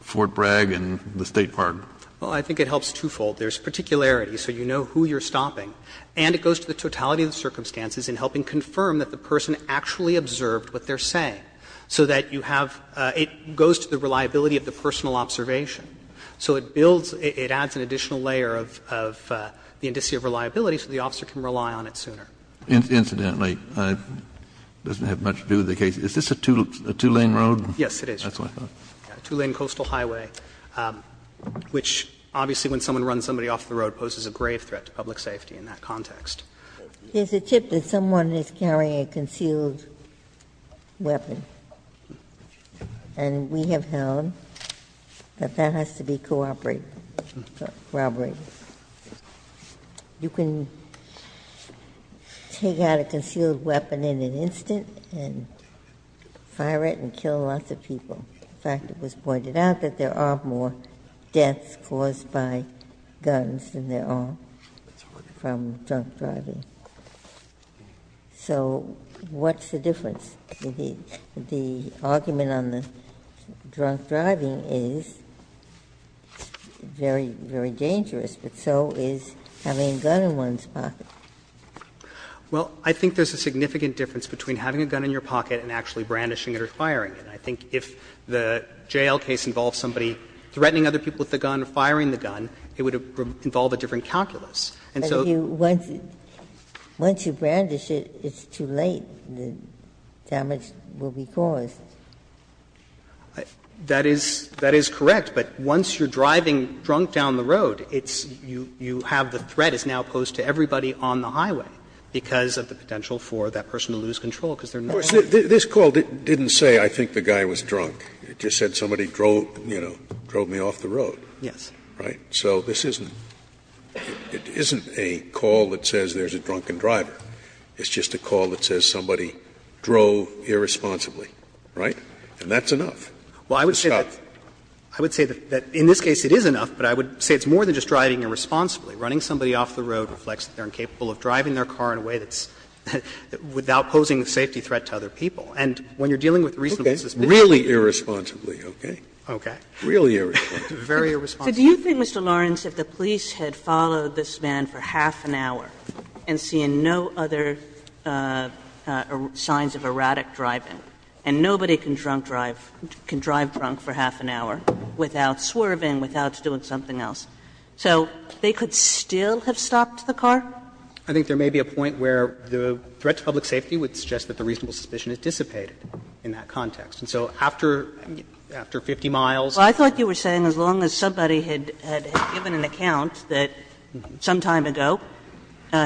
Fort Bragg and the State Park. Lawrence Well, I think it helps twofold. There's particularity, so you know who you're stopping. And it goes to the totality of the circumstances in helping confirm that the person actually observed what they're saying, so that you have – it goes to the reliability of the personal observation. So it builds, it adds an additional layer of the indicia of reliability so the officer can rely on it sooner. Kennedy Incidentally, it doesn't have much to do with the case. Is this a two-lane road? Lawrence Yes, it is. Kennedy That's what I thought. Lawrence A two-lane coastal highway, which obviously when someone runs somebody off the road poses a grave threat to public safety in that context. Ginsburg Here's a tip that someone is carrying a concealed weapon, and we have held that that has to be corroborated. You can take out a concealed weapon in an instant and fire it and kill lots of people. In fact, it was pointed out that there are more deaths caused by guns than there are from drunk driving. So what's the difference? The argument on the drunk driving is very, very dangerous, but so is having a gun in one's pocket. Lawrence Well, I think there's a significant difference between having a gun in your pocket and actually brandishing it or firing it. And I think if the jail case involves somebody threatening other people with a gun or firing the gun, it would involve a different calculus. And so you want to brandish it, it's too late, the damage will be caused. That is correct. But once you're driving drunk down the road, it's you have the threat is now posed to everybody on the highway because of the potential for that person to lose control because they're not driving. Scalia This call didn't say I think the guy was drunk. It just said somebody drove, you know, drove me off the road. Right? So this isn't a call that says there's a drunken driver. It's just a call that says somebody drove irresponsibly. Right? And that's enough. It's enough. Lawrence I would say that in this case it is enough, but I would say it's more than just driving irresponsibly. Running somebody off the road reflects that they're incapable of driving their car in a way that's without posing a safety threat to other people. And when you're dealing with reasonable suspicions. Scalia Okay. Really irresponsibly, okay? Lawrence Scalia Really irresponsibly. Lawrence Very irresponsibly. Kagan So do you think, Mr. Lawrence, if the police had followed this man for half an hour and seen no other signs of erratic driving, and nobody can drunk drive, can drive drunk for half an hour without swerving, without doing something else, so they could still have stopped the car? Lawrence I think there may be a point where the threat to public safety would suggest that the reasonable suspicion is dissipated in that context. And so after 50 miles. Kagan Well, I thought you were saying as long as somebody had given an account that some time ago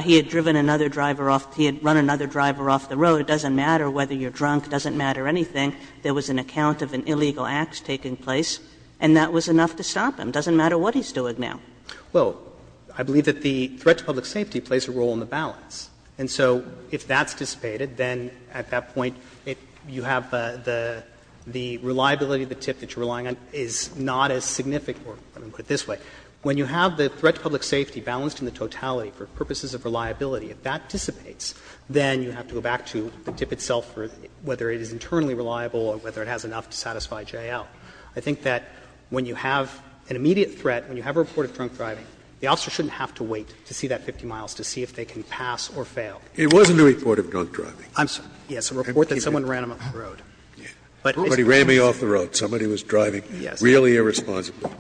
he had driven another driver off, he had run another driver off the road, it doesn't matter whether you're drunk, it doesn't matter anything. There was an account of an illegal act taking place, and that was enough to stop him. It doesn't matter what he's doing now. Lawrence Well, I believe that the threat to public safety plays a role in the balance. And so if that's dissipated, then at that point, you have the reliability of the tip that you're relying on is not as significant, or let me put it this way. When you have the threat to public safety balanced in the totality for purposes of reliability, if that dissipates, then you have to go back to the tip itself for whether it is internally reliable or whether it has enough to satisfy J.L. I think that when you have an immediate threat, when you have a report of drunk driving, the officer shouldn't have to wait to see that 50 miles to see if they can pass or fail. Scalia It wasn't a report of drunk driving. Lawrence I'm sorry. Yes, a report that someone ran him off the road. Scalia Somebody ran me off the road. Somebody was driving me really irresponsibly.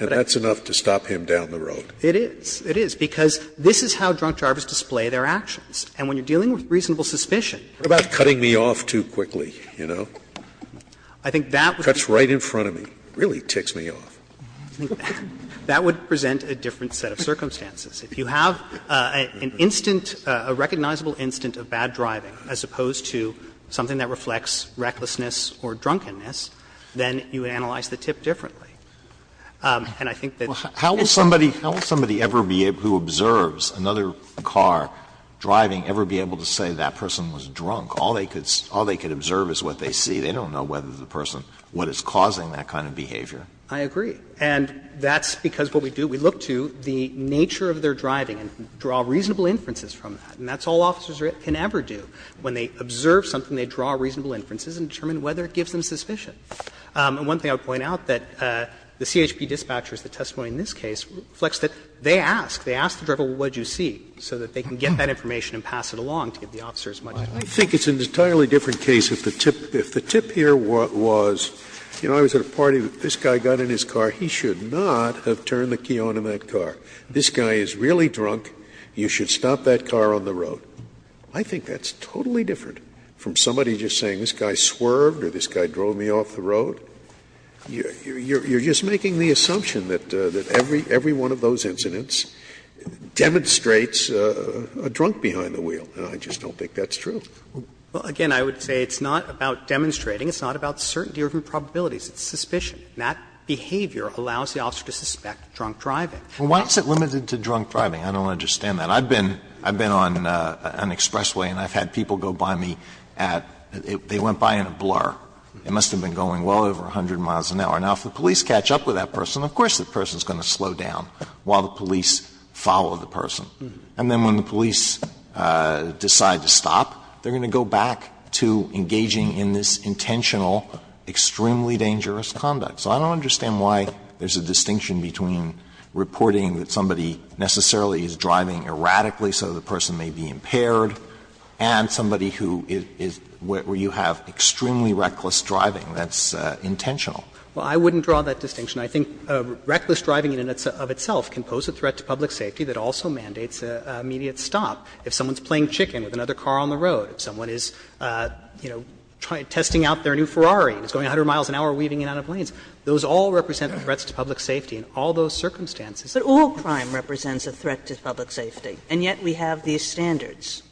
And that's enough to stop him down the road. Lawrence It is. It is, because this is how drunk drivers display their actions. Scalia What about cutting me off too quickly, you know? Lawrence I think that would be the case. If somebody ran in front of me, it really ticks me off. Roberts That would present a different set of circumstances. If you have an instant, a recognizable instant of bad driving as opposed to something that reflects recklessness or drunkenness, then you analyze the tip differently. And I think that it's the case. Alito How will somebody ever be able to observe another car driving ever be able to say that person was drunk? All they could observe is what they see. They don't know whether the person, what is causing that kind of behavior. Lawrence I agree. And that's because what we do, we look to the nature of their driving and draw reasonable inferences from that. And that's all officers can ever do. When they observe something, they draw reasonable inferences and determine whether it gives them suspicion. And one thing I would point out, that the CHP dispatchers, the testimony in this case, reflects that they ask. They ask the driver, well, what did you see, so that they can get that information and pass it along to give the officers much information. Scalia I think it's an entirely different case if the tip here was, you know, I was at a party, this guy got in his car, he should not have turned the key on in that car. This guy is really drunk. You should stop that car on the road. I think that's totally different from somebody just saying this guy swerved or this guy drove me off the road. You're just making the assumption that every one of those incidents demonstrates a drunk behind the wheel. And I just don't think that's true. Well, again, I would say it's not about demonstrating. It's not about certainty or probabilities. It's suspicion. And that behavior allows the officer to suspect drunk driving. Alito Well, why is it limited to drunk driving? I don't understand that. I've been on an expressway and I've had people go by me at they went by in a blur. It must have been going well over 100 miles an hour. Now, if the police catch up with that person, of course the person is going to slow down while the police follow the person. And then when the police decide to stop, they're going to go back to engaging in this intentional, extremely dangerous conduct. So I don't understand why there's a distinction between reporting that somebody necessarily is driving erratically so the person may be impaired and somebody who is where you have extremely reckless driving that's intentional. Well, I wouldn't draw that distinction. I think reckless driving in and of itself can pose a threat to public safety that also mandates an immediate stop. If someone's playing chicken with another car on the road, if someone is, you know, testing out their new Ferrari and it's going 100 miles an hour weaving in and out of lanes, those all represent threats to public safety in all those circumstances. Kagan But all crime represents a threat to public safety, and yet we have these standards.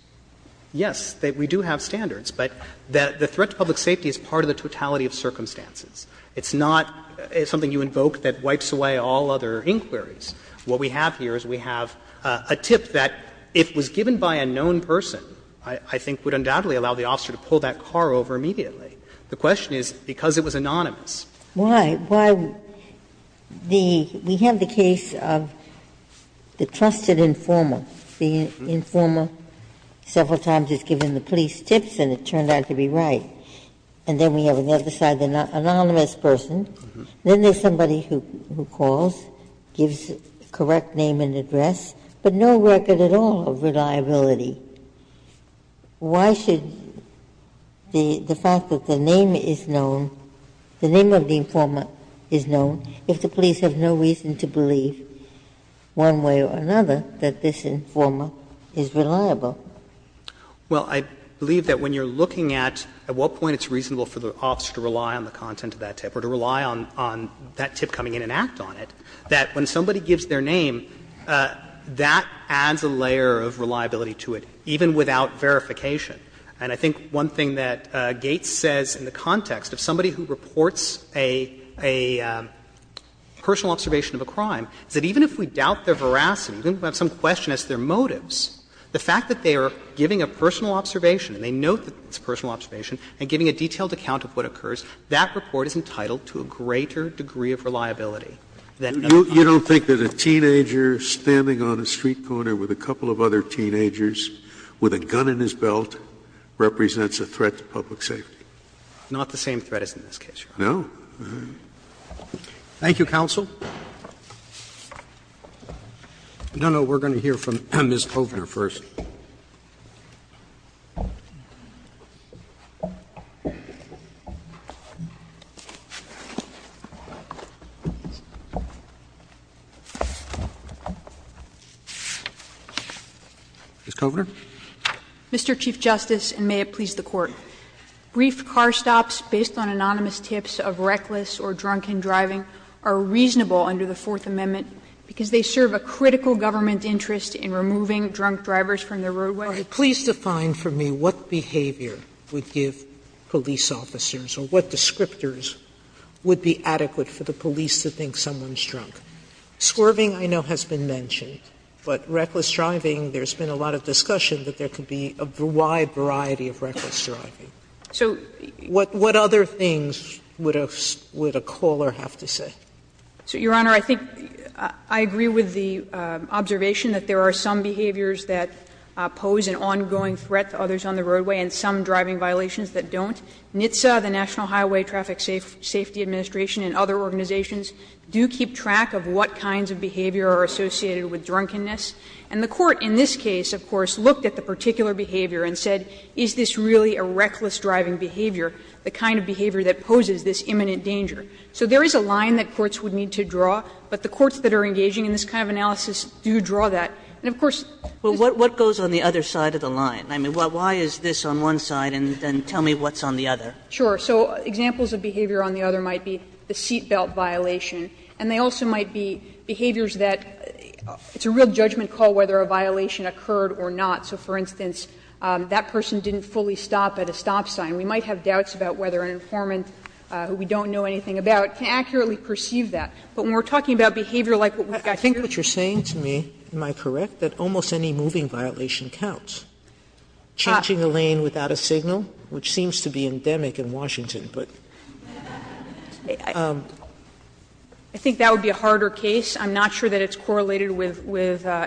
Yes, we do have standards, but the threat to public safety is part of the totality of circumstances. It's not something you invoke that wipes away all other inquiries. What we have here is we have a tip that if it was given by a known person, I think would undoubtedly allow the officer to pull that car over immediately. The question is, because it was anonymous. Ginsburg Why? Why? The we have the case of the trusted informer. The informer several times has given the police tips and it turned out to be right. And then we have another side, the anonymous person. Then there's somebody who calls, gives the correct name and address, but no record at all of reliability. Why should the fact that the name is known, the name of the informer is known if the police have no reason to believe, one way or another, that this informer is reliable? Well, I believe that when you're looking at at what point it's reasonable for the to rely on that tip coming in and act on it, that when somebody gives their name, that adds a layer of reliability to it, even without verification. And I think one thing that Gates says in the context of somebody who reports a personal observation of a crime is that even if we doubt their veracity, even if we have some question as to their motives, the fact that they are giving a personal observation and they note that it's a personal observation and giving a detailed account of what occurs, that report is entitled to a greater degree of reliability than other crimes. Scalia You don't think that a teenager standing on a street corner with a couple of other teenagers with a gun in his belt represents a threat to public safety? Not the same threat as in this case, Your Honor. No? Roberts Thank you, counsel. No, no, we're going to hear from Ms. Hovner first. Ms. Hovner. Ms. Hovner. Mr. Chief Justice, and may it please the Court, brief car stops based on anonymous tips of reckless or drunken driving are reasonable under the Fourth Amendment because they serve a critical government interest in removing drunk drivers from the roadway? Sotomayor Please define for me what behavior would give police officers or what descriptors would be adequate for the police to think someone's drunk. Swerving, I know, has been mentioned, but reckless driving, there's been a lot of discussion that there could be a wide variety of reckless driving. What other things would a caller have to say? Hovner So, Your Honor, I think I agree with the observation that there are some behaviors that pose an ongoing threat to others on the roadway and some driving violations that don't. NHTSA, the National Highway Traffic Safety Administration, and other organizations do keep track of what kinds of behavior are associated with drunkenness. And the Court in this case, of course, looked at the particular behavior and said, is this really a reckless driving behavior, the kind of behavior that poses this imminent danger? So there is a line that courts would need to draw, but the courts that are engaging in this kind of analysis do draw that. And, of course, this is a real judgment call whether a violation occurred or not. I mean, why is this on one side and then tell me what's on the other? So, examples of behavior on the other might be the seat belt violation. And they also might be behaviors that it's a real judgment call whether a violation occurred or not. So, for instance, that person didn't fully stop at a stop sign. We might have doubts about whether an informant who we don't know anything about can accurately perceive that. But when we're talking about behavior like what we've got here. Sotomayor, I think what you're saying to me, am I correct, that almost any moving violation counts. Changing a lane without a signal, which seems to be endemic in Washington, but. I think that would be a harder case. I'm not sure that it's correlated with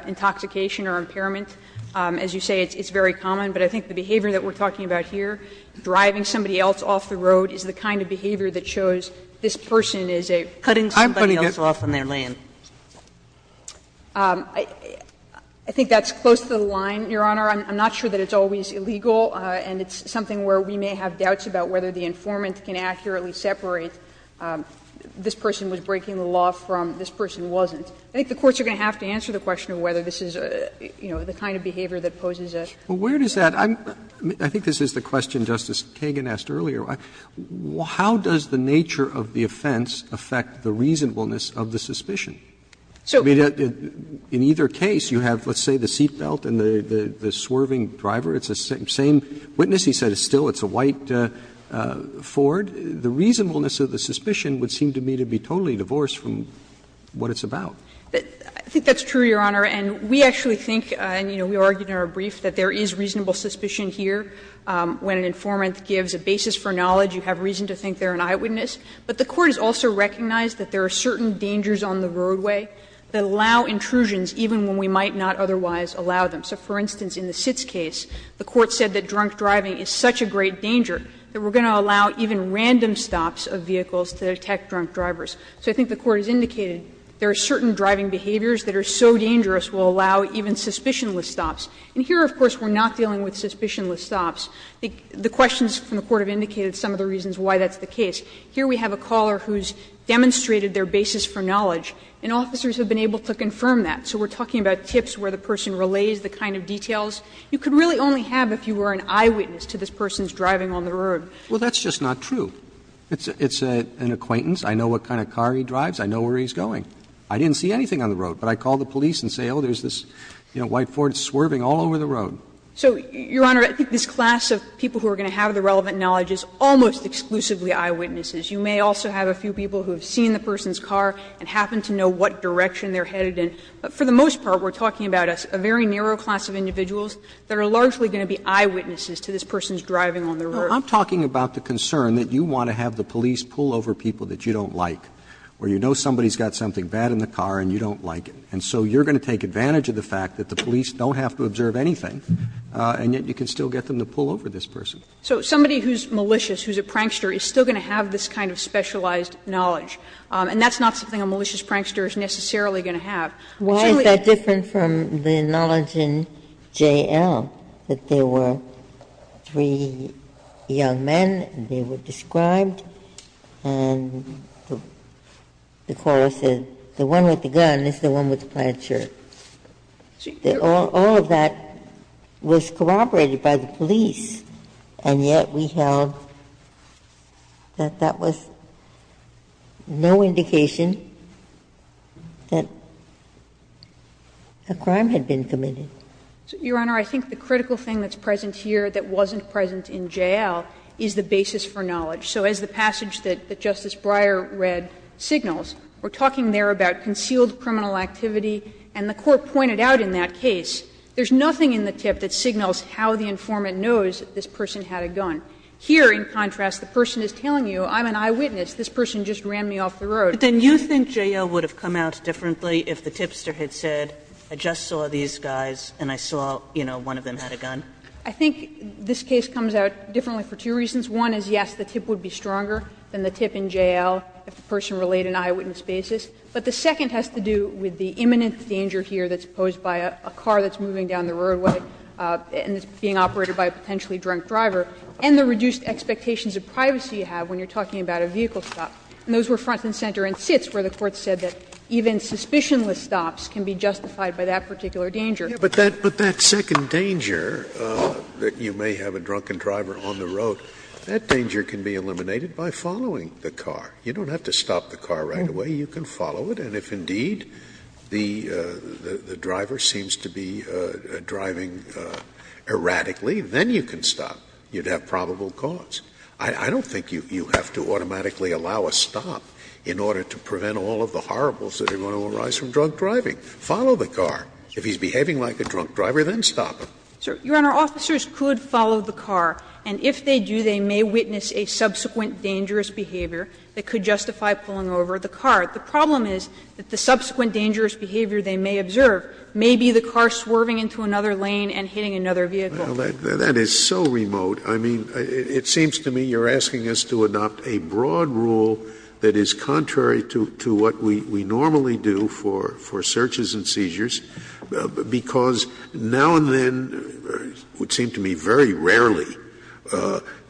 intoxication or impairment. As you say, it's very common. But I think the behavior that we're talking about here, driving somebody else off the road, is the kind of behavior that shows this person is a. Sotomayor, I'm putting this off on their lane. I think that's close to the line, Your Honor. I'm not sure that it's always illegal. And it's something where we may have doubts about whether the informant can accurately separate this person was breaking the law from this person wasn't. I think the courts are going to have to answer the question of whether this is, you know, the kind of behavior that poses a. Roberts, I think this is the question Justice Kagan asked earlier. How does the nature of the offense affect the reasonableness of the suspicion? I mean, in either case, you have, let's say, the seatbelt and the swerving driver. It's the same witness. He said, still, it's a white Ford. The reasonableness of the suspicion would seem to me to be totally divorced from what it's about. I think that's true, Your Honor. And we actually think, and, you know, we argued in our brief, that there is reasonable suspicion here. When an informant gives a basis for knowledge, you have reason to think they're an eyewitness. But the Court has also recognized that there are certain dangers on the roadway that allow intrusions even when we might not otherwise allow them. So, for instance, in the Sitz case, the Court said that drunk driving is such a great danger that we're going to allow even random stops of vehicles to detect drunk drivers. So I think the Court has indicated there are certain driving behaviors that are so dangerous will allow even suspicionless stops. And here, of course, we're not dealing with suspicionless stops. The questions from the Court have indicated some of the reasons why that's the case. Here we have a caller who's demonstrated their basis for knowledge, and officers have been able to confirm that. So we're talking about tips where the person relays the kind of details you could really only have if you were an eyewitness to this person's driving on the road. Roberts, Well, that's just not true. It's an acquaintance. I know what kind of car he drives. I know where he's going. I didn't see anything on the road, but I call the police and say, oh, there's this, you know, white Ford swerving all over the road. So, Your Honor, I think this class of people who are going to have the relevant knowledge is almost exclusively eyewitnesses. You may also have a few people who have seen the person's car and happen to know what direction they're headed in. But for the most part, we're talking about a very narrow class of individuals that are largely going to be eyewitnesses to this person's driving on the road. I'm talking about the concern that you want to have the police pull over people that you don't like, or you know somebody's got something bad in the car and you don't like it. And so you're going to take advantage of the fact that the police don't have to observe anything, and yet you can still get them to pull over this person. So somebody who's malicious, who's a prankster, is still going to have this kind of specialized knowledge. And that's not something a malicious prankster is necessarily going to have. Why is that different from the knowledge in J.L., that there were three young men and they were described, and the court said the one with the gun is the one with the plaid shirt? All of that was corroborated by the police, and yet we held that that was no indication that a crime had been committed. So, Your Honor, I think the critical thing that's present here that wasn't present in J.L. is the basis for knowledge. So as the passage that Justice Breyer read signals, we're talking there about concealed criminal activity, and the court pointed out in that case there's nothing in the tip that signals how the informant knows that this person had a gun. Here, in contrast, the person is telling you, I'm an eyewitness, this person just ran me off the road. Kagan, you think J.L. would have come out differently if the tipster had said, I just saw these guys and I saw, you know, one of them had a gun? I think this case comes out differently for two reasons. One is, yes, the tip would be stronger than the tip in J.L. if the person relayed an eyewitness basis. But the second has to do with the imminent danger here that's posed by a car that's moving down the roadway and is being operated by a potentially drunk driver, and the reduced expectations of privacy you have when you're talking about a vehicle stop. And those were front and center and sits where the Court said that even suspicionless stops can be justified by that particular danger. But that second danger, that you may have a drunken driver on the road, that danger can be eliminated by following the car. You don't have to stop the car right away, you can follow it. And if, indeed, the driver seems to be driving erratically, then you can stop. You'd have probable cause. I don't think you have to automatically allow a stop in order to prevent all of the horribles that are going to arise from drunk driving. Follow the car. If he's behaving like a drunk driver, then stop. Sir, Your Honor, officers could follow the car, and if they do, they may witness a subsequent dangerous behavior that could justify pulling over the car. The problem is that the subsequent dangerous behavior they may observe may be the car swerving into another lane and hitting another vehicle. Well, that is so remote. I mean, it seems to me you're asking us to adopt a broad rule that is contrary to what we normally do for searches and seizures, because now and then, it would seem to me very rarely,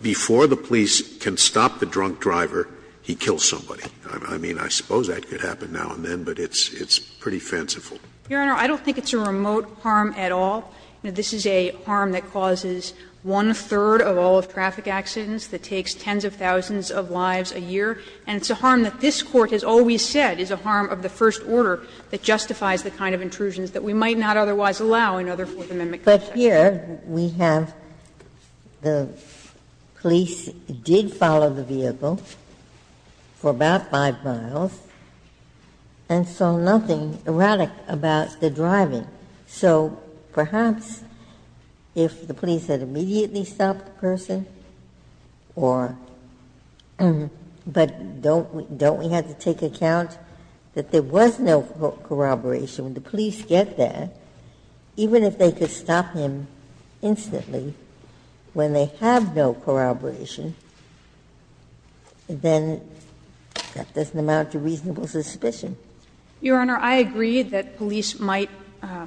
before the police can stop the drunk driver, he kills somebody. I mean, I suppose that could happen now and then, but it's pretty fanciful. Your Honor, I don't think it's a remote harm at all. This is a harm that causes one-third of all of traffic accidents, that takes tens of thousands of lives a year. And it's a harm that this Court has always said is a harm of the first order that justifies the kind of intrusions that we might not otherwise allow in other Fourth Amendment cases. Ginsburg. But here, we have the police did follow the vehicle for about 5 miles and saw nothing erratic about the driving. So perhaps if the police had immediately stopped the person, or but don't we have to take account that there was no corroboration? When the police get there, even if they could stop him instantly, when they have no corroboration, then that doesn't amount to reasonable suspicion. Your Honor, I agree that police might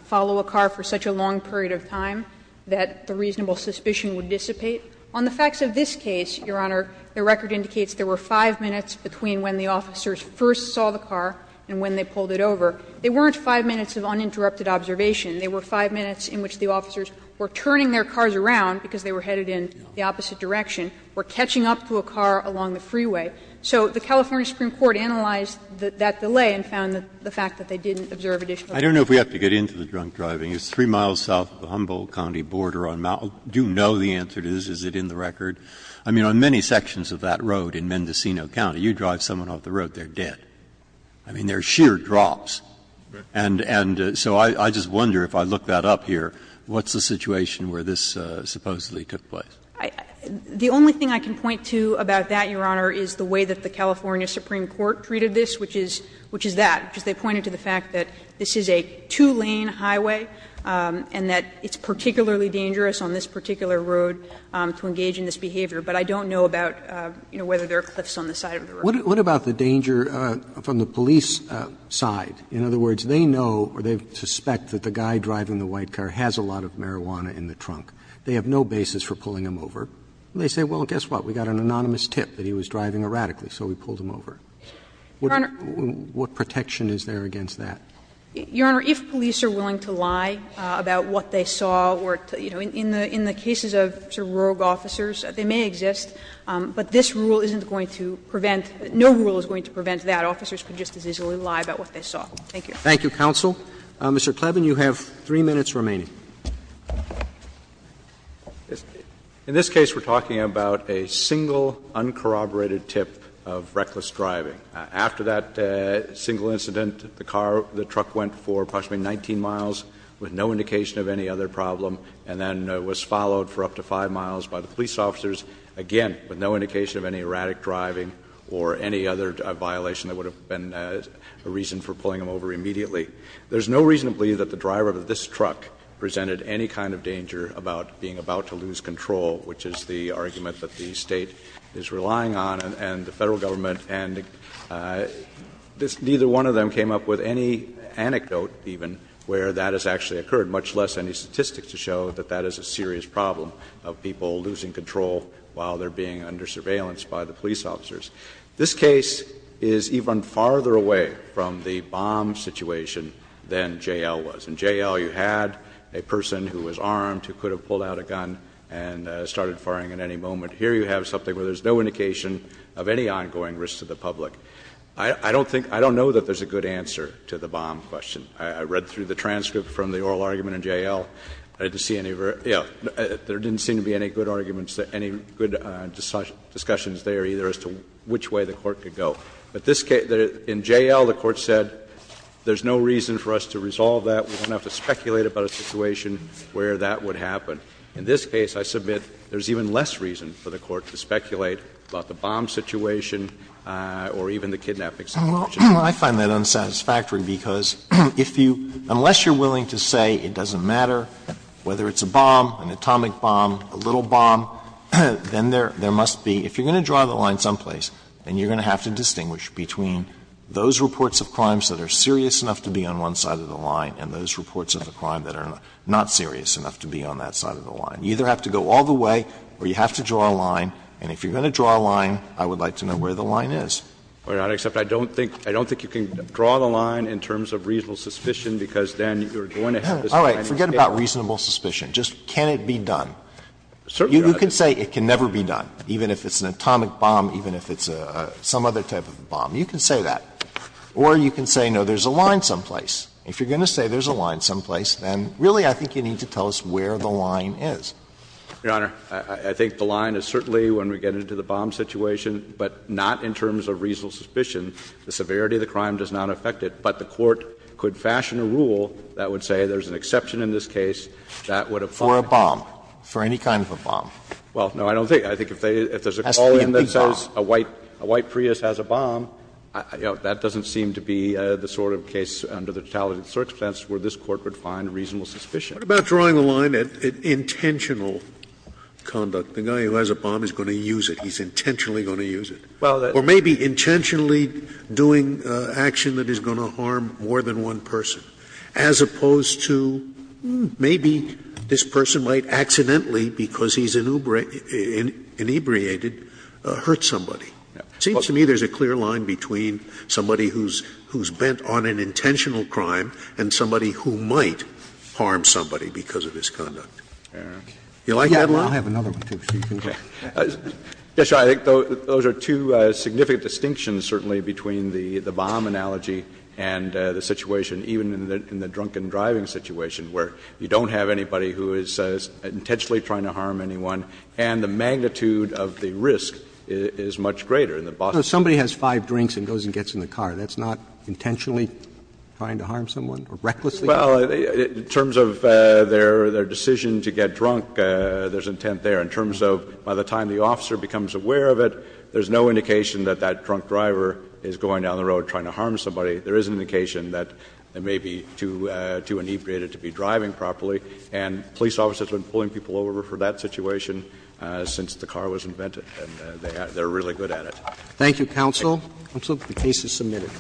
follow a car for such a long period of time that the reasonable suspicion would dissipate. On the facts of this case, Your Honor, the record indicates there were 5 minutes between when the officers first saw the car and when they pulled it over. They weren't 5 minutes of uninterrupted observation. They were 5 minutes in which the officers were turning their cars around, because they were headed in the opposite direction, were catching up to a car along the freeway. So the California Supreme Court analyzed that delay and found the fact that they didn't observe additional evidence. Breyer, I don't know if we have to get into the drunk driving. It's 3 miles south of the Humboldt County border on Mount — do you know the answer to this? Is it in the record? I mean, on many sections of that road in Mendocino County, you drive someone off the road, they're dead. I mean, they're sheer drops. And so I just wonder, if I look that up here, what's the situation where this supposedly took place? The only thing I can point to about that, Your Honor, is the way that the California Supreme Court treated this, which is that, because they pointed to the fact that this is a two-lane highway and that it's particularly dangerous on this particular road to engage in this behavior. But I don't know about, you know, whether there are cliffs on the side of the road. Roberts. What about the danger from the police side? In other words, they know or they suspect that the guy driving the white car has a lot of marijuana in the trunk. They have no basis for pulling him over. And they say, well, guess what, we got an anonymous tip that he was driving erratically, so we pulled him over. What protection is there against that? Your Honor, if police are willing to lie about what they saw or, you know, in the cases of sort of rogue officers, they may exist, but this rule isn't going to prevent — no rule is going to prevent that. Officers can just as easily lie about what they saw. Thank you. Roberts. Thank you, counsel. Mr. Kleven, you have 3 minutes remaining. In this case, we're talking about a single, uncorroborated tip of reckless driving. After that single incident, the car, the truck went for approximately 19 miles with no indication of any other problem and then was followed for up to 5 miles by the police officers, again with no indication of any erratic driving or any other violation that would have been a reason for pulling him over immediately. There's no reason to believe that the driver of this truck presented any kind of danger about being about to lose control, which is the argument that the State is relying on and the Federal Government, and neither one of them came up with any anecdote even where that has actually occurred, much less any statistics to show that that is a serious problem of people losing control while they're being under surveillance by the police officers. This case is even farther away from the bomb situation than J.L. was. In J.L., you had a person who was armed who could have pulled out a gun and started firing at any moment. Here you have something where there's no indication of any ongoing risk to the public. I don't think — I don't know that there's a good answer to the bomb question. I read through the transcript from the oral argument in J.L. I didn't see any — yeah, there didn't seem to be any good arguments, any good discussions there either as to which way the Court could go. But this case — in J.L., the Court said there's no reason for us to resolve that. We don't have to speculate about a situation where that would happen. In this case, I submit there's even less reason for the Court to speculate about the bomb situation or even the kidnapping situation. Well, I find that unsatisfactory because if you — unless you're willing to say it doesn't matter whether it's a bomb, an atomic bomb, a little bomb, then there must be — if you're going to draw the line someplace, then you're going to have to distinguish between those reports of crimes that are serious enough to be on one side of the line and those reports of a crime that are not serious enough to be on that side of the line. You either have to go all the way or you have to draw a line. And if you're going to draw a line, I would like to know where the line is. Well, Your Honor, except I don't think — I don't think you can draw the line in terms of reasonable suspicion because then you're going to have this kind of case. All right. Forget about reasonable suspicion. Just can it be done? You can say it can never be done, even if it's an atomic bomb, even if it's some other type of bomb. You can say that. Or you can say, no, there's a line someplace. If you're going to say there's a line someplace, then really I think you need to tell us where the line is. Your Honor, I think the line is certainly when we get into the bomb situation, but not in terms of reasonable suspicion. The severity of the crime does not affect it. But the Court could fashion a rule that would say there's an exception in this case that would apply. For a bomb. For any kind of a bomb. Well, no, I don't think. I think if there's a call in that says a white Prius has a bomb, that doesn't seem to be the sort of case under the totality of the circumstance where this Court would find reasonable suspicion. Scalia. What about drawing a line at intentional conduct? The guy who has a bomb is going to use it. He's intentionally going to use it. Or maybe intentionally doing action that is going to harm more than one person, as opposed to maybe this person might accidentally, because he's inebriated, hurt somebody. It seems to me there's a clear line between somebody who's bent on an intentional crime and somebody who might harm somebody because of his conduct. You like that line? I'll have another one, too, so you can go. Yes, Your Honor. I think those are two significant distinctions, certainly, between the bomb analogy and the situation, even in the drunken driving situation, where you don't have anybody who is intentionally trying to harm anyone, and the magnitude of the risk is much greater in the Boston case. So somebody has five drinks and goes and gets in the car. That's not intentionally trying to harm someone or recklessly? Well, in terms of their decision to get drunk, there's intent there. In terms of by the time the officer becomes aware of it, there's no indication that that drunk driver is going down the road trying to harm somebody. There is an indication that they may be too inebriated to be driving properly. And police officers have been pulling people over for that situation since the car was invented, and they're really good at it. Thank you, counsel. Counsel, the case is submitted.